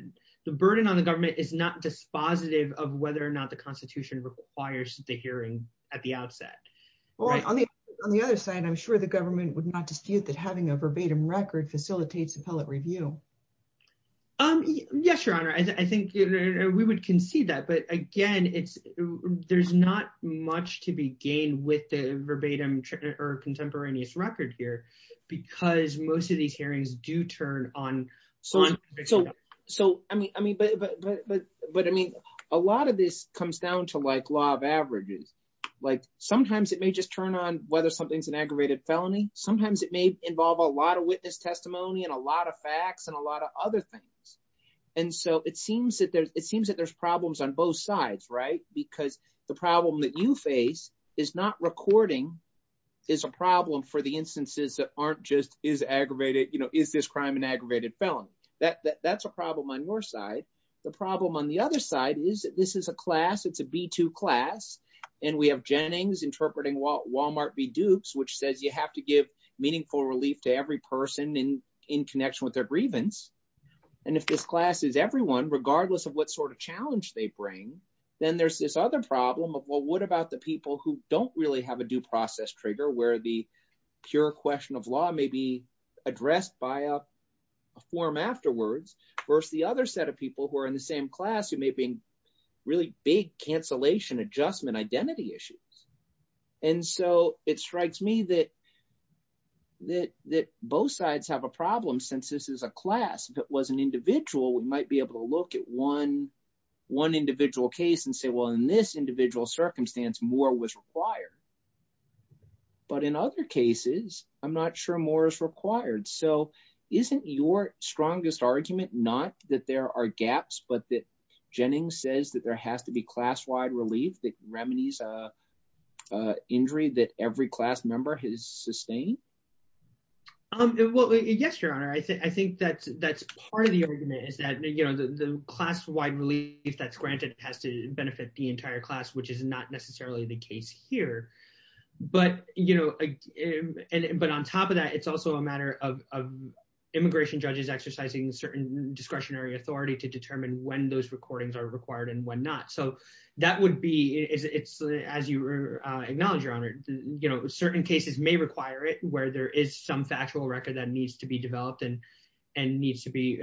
the burden on the government is not dispositive of whether or not the constitution requires the hearing at the outset well on the other side i'm sure the government would not dispute that having a verbatim record facilitates appellate review um yes your honor i think we would concede that but again it's there's not much to be gained with the verbatim or contemporaneous record here because most of these hearings do turn on so on so so i mean i mean but but but but i mean a lot of this comes down to like law of averages like sometimes it may just turn on whether something's an aggravated felony sometimes it may involve a lot of witness testimony and a lot of facts and a lot of other things and so it seems that there's it seems that there's problems on both sides right because the problem that you face is not recording is a problem for the instances that aren't just is aggravated you know is this crime an aggravated felony that that's a problem on your side the problem on the class it's a b2 class and we have jennings interpreting walmart v dukes which says you have to give meaningful relief to every person in in connection with their grievance and if this class is everyone regardless of what sort of challenge they bring then there's this other problem of well what about the people who don't really have a due process trigger where the pure question of law may be addressed by a form afterwards versus the other set of people who are in the same class it may be really big cancellation adjustment identity issues and so it strikes me that that that both sides have a problem since this is a class that was an individual we might be able to look at one one individual case and say well in this individual circumstance more was required but in other cases i'm not sure more is required so isn't your strongest argument not that there are gaps but that jennings says that there has to be class-wide relief that remedies a injury that every class member has sustained um well yes your honor i think i think that that's part of the argument is that you know the class-wide relief that's granted has to benefit the entire class which is not necessarily the case here but you and but on top of that it's also a matter of immigration judges exercising certain discretionary authority to determine when those recordings are required and when not so that would be it's as you acknowledge your honor you know certain cases may require it where there is some factual record that needs to be developed and and needs to be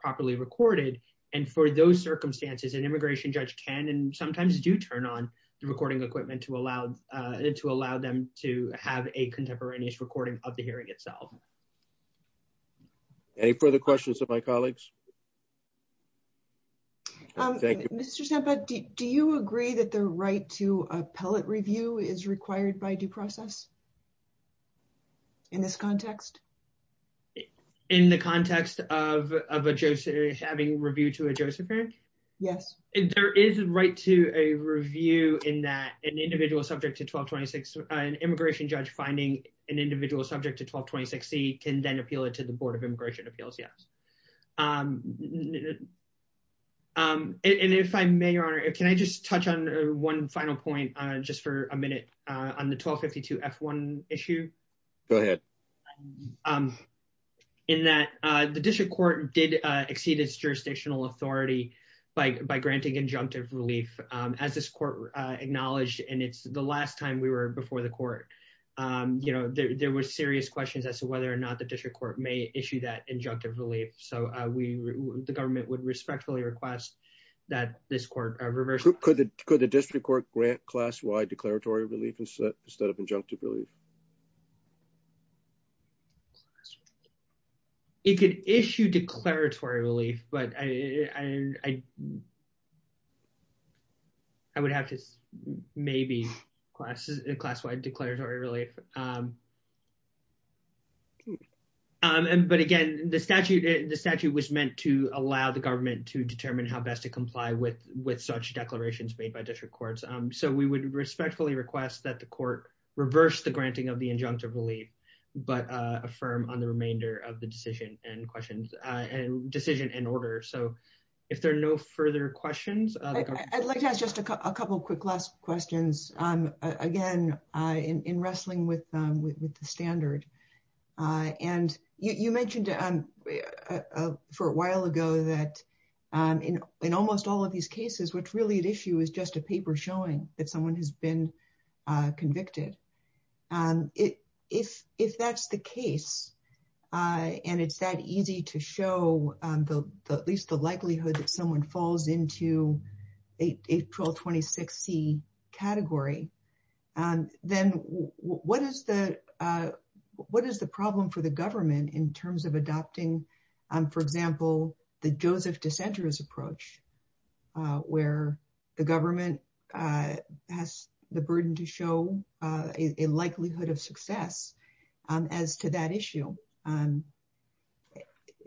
properly recorded and for those circumstances an immigration judge can and sometimes do turn on the recording equipment to allow uh to allow them to have a contemporaneous recording of the hearing itself any further questions of my colleagues um do you agree that the right to appellate review is required by due process in this context in the context of of a joseph having review to a josephine yes there is a right to a review in that an individual subject to 1226 an immigration judge finding an individual subject to 1220 60 can then appeal it to the board of immigration appeals yes um and if i may or if can i just touch on one final point uh just for a minute uh on the 1252 f1 issue go ahead um in that uh the district court did uh exceed its jurisdictional authority by by granting injunctive relief um as this court uh acknowledged and it's the last time we were before the court um you know there were serious questions as to whether or not the district court may issue that injunctive relief so we the government would respectfully request that this court reverse could the could the district court grant class-wide declaratory relief instead of injunctive relief it could issue declaratory relief but i i i i would have to maybe class class-wide declaratory relief um um and but again the statute the statute was meant to allow the government to determine how best to comply with with such declarations made by different courts um so we would respectfully request that the court reverse the granting of the injunctive relief but uh affirm on the remainder of the decision and questions uh and decision in order so if there are no further questions i'd like to have just a couple quick last questions um again uh in in wrestling with um with the standard uh and you you mentioned um for a while ago that um in in almost all of these cases which really the issue is just a paper showing that someone has been uh convicted um it if if that's the case uh and it's that easy to show the at least the likelihood that someone falls into a april 26 c category um then what is the uh what is the problem for the government in terms of adopting um for example the joseph dissenters approach uh where the government uh has the burden to show uh a likelihood of success um as to that issue um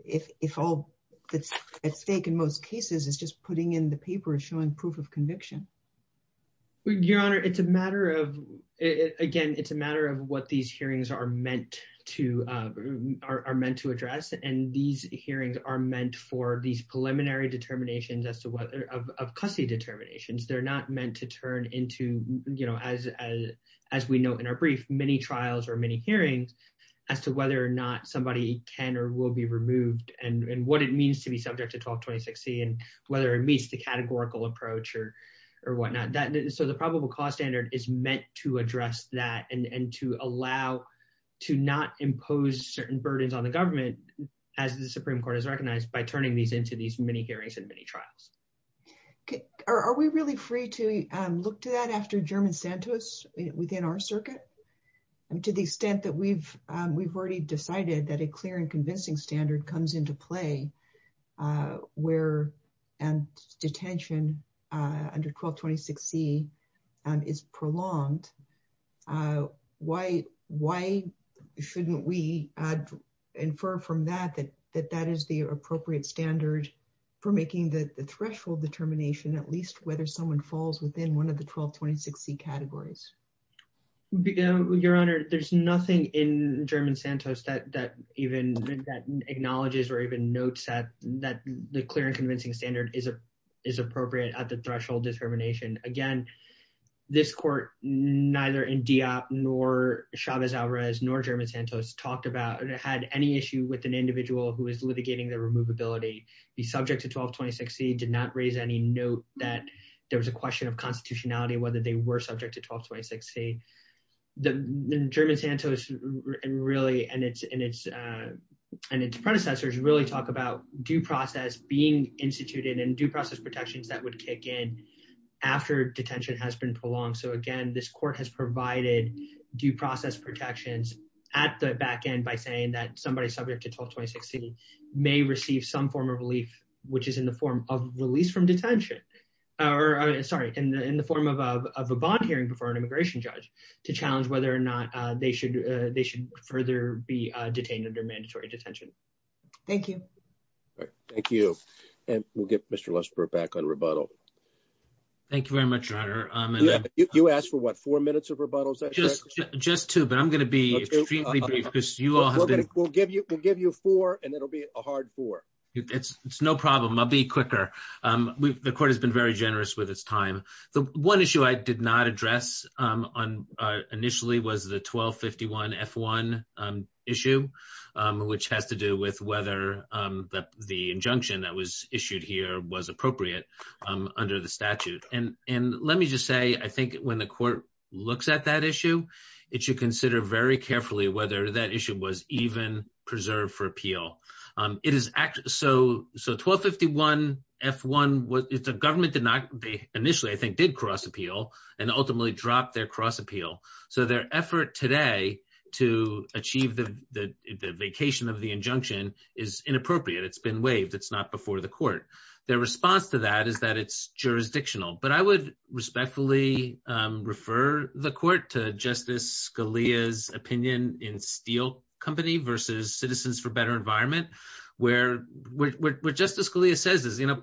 if if all that's at stake in most cases is just putting in the paper showing proof of conviction your honor it's a matter of again it's a matter of what these hearings are meant to uh are meant to address and these hearings are meant for these preliminary determinations as to whether of custody determinations they're not meant to turn into you know as as we know in our brief many trials or many hearings as to whether or not somebody can or will be removed and and what it means to be subject to 12 2060 and whether it meets the categorical approach or or whatnot that so the probable cause standard is meant to address that and and to allow to not impose certain burdens on the government as the supreme court has recognized by turning these into these many hearings and many trials okay are we really free to um look to that after german santos within our circuit and to the extent that we've um we've already decided that a clear and convincing standard comes into play uh where and detention uh under 1226 c and is prolonged uh why why shouldn't we uh infer from that that that that is the appropriate standard for making the threshold determination at least whether someone falls within one of the 1226 c categories your honor there's nothing in german santos that that even that acknowledges or even notes that that the clear and convincing standard is a appropriate at the threshold determination again this court neither india nor chavez alrez nor german santos talked about or had any issue with an individual who is litigating the removability be subject to 1226 c did not raise any note that there was a question of constitutionality whether they were subject to 1226 c the german santos and really and it's and it's uh and its predecessors really talk about due process being instituted and due process protections that would kick in after detention has been prolonged so again this court has provided due process protections at the back end by saying that somebody subject to 1226 c may receive some form of relief which is in the form of release from detention or sorry in the in the form of a bond hearing before an immigration judge to challenge whether or not uh they should uh they should further be uh detained under mandatory detention thank you all right thank you and we'll get mr lesper back on rebuttal thank you very much your honor um you asked for what four minutes of rebuttals just just two but i'm going to be extremely brief because you all have been we'll give you we'll give you four and it'll be a hard four it's it's no problem i'll be quicker um the court has been very generous with time the one issue i did not address um on uh initially was the 1251 f1 um issue um which has to do with whether um the the injunction that was issued here was appropriate um under the statute and and let me just say i think when the court looks at that issue it should consider very carefully whether that issue was even preserved for appeal um it is act so so 1251 f1 was the initially i think did cross appeal and ultimately dropped their cross appeal so their effort today to achieve the the vacation of the injunction is inappropriate it's been waived it's not before the court their response to that is that it's jurisdictional but i would respectfully um refer the court to justice scalia's opinion in steel company versus citizens for better environment where what justice scalia says is you know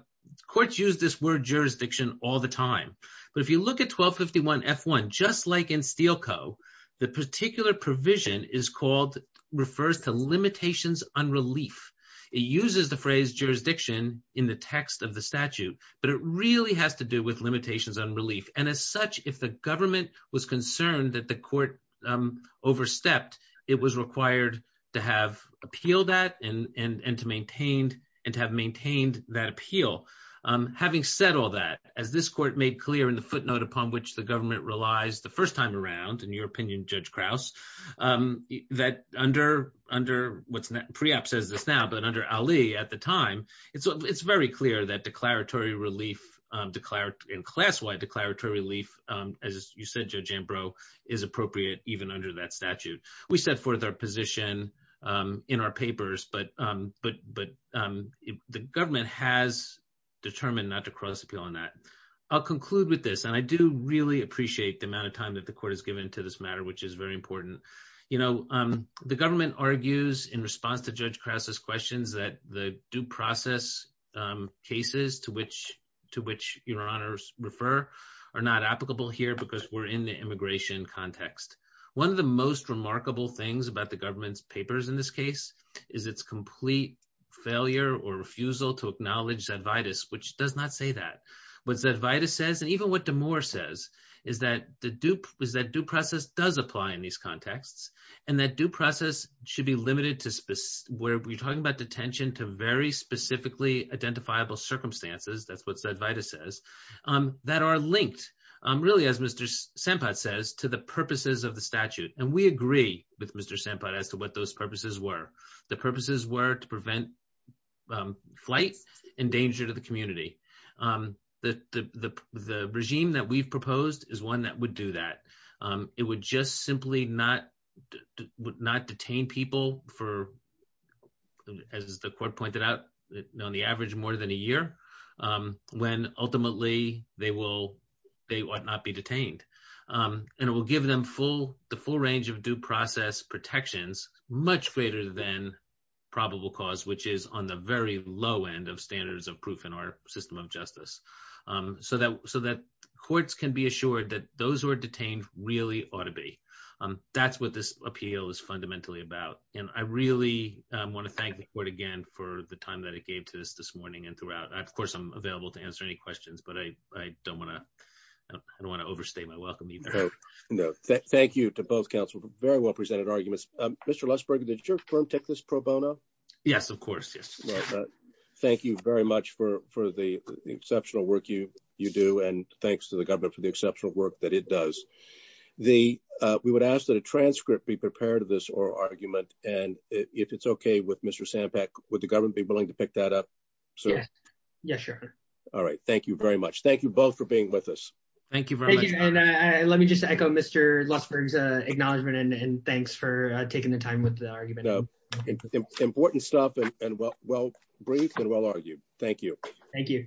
courts use this word jurisdiction all the time but if you look at 1251 f1 just like in steel co the particular provision is called refers to limitations on relief it uses the phrase jurisdiction in the text of the statute but it really has to do with limitations on relief and as such if the government was concerned that the and to maintain and to have maintained that appeal um having said all that as this court made clear in the footnote upon which the government relies the first time around in your opinion judge kraus um that under under what's pre-op says this now but under ali at the time it's it's very clear that declaratory relief um declared in class-wide declaratory relief um as you said judge ambrose is appropriate even under that statute we set forth our position um in our but but um the government has determined not to cross appeal on that i'll conclude with this and i do really appreciate the amount of time that the court has given to this matter which is very important you know um the government argues in response to judge kraus's questions that the due process um cases to which to which your honors refer are not applicable here because we're in the immigration context one of the most remarkable things about the government's papers in this case is its complete failure or refusal to acknowledge that vitus which does not say that what that vita says and even what the more says is that the dupe is that due process does apply in these contexts and that due process should be limited to where we're talking about detention to very specifically identifiable circumstances that's what said vita says um that are linked um really as mr sanpat says to the purposes of the statute and we agree with mr sanpat as to what those purposes were the purposes were to prevent um flight in danger to the community um the the the regime that we've proposed is one that would do that um it would just simply not would not detain people for as the court pointed out on the average more than a year um when ultimately they will they would not be detained um and it will give them full the full range of due process protections much greater than probable cause which is on the very low end of standards of proof in our system of justice um so that so that courts can be assured that those who are detained really ought to be um that's what this appeal is fundamentally about and i really um want to thank the court again for the time that it gave to us this morning and throughout of course i'm available to answer any questions but i i don't want to i don't want to overstate my welcome no thank you to both counsel very well presented arguments um mr lesberg did your firm take this pro bono yes of course yes thank you very much for for the exceptional work you you do and thanks to the government for the exceptional work that it does the uh we would ask that a transcript be prepared of this oral argument and if it's okay with mr sanpat would the government be willing to pick that up so yeah yeah sure all right thank you very much thank you both for being with us thank you thank you and uh let me just echo mr losberg's uh acknowledgement and thanks for taking the time with the argument important stuff and well well brief and well argued thank you thank you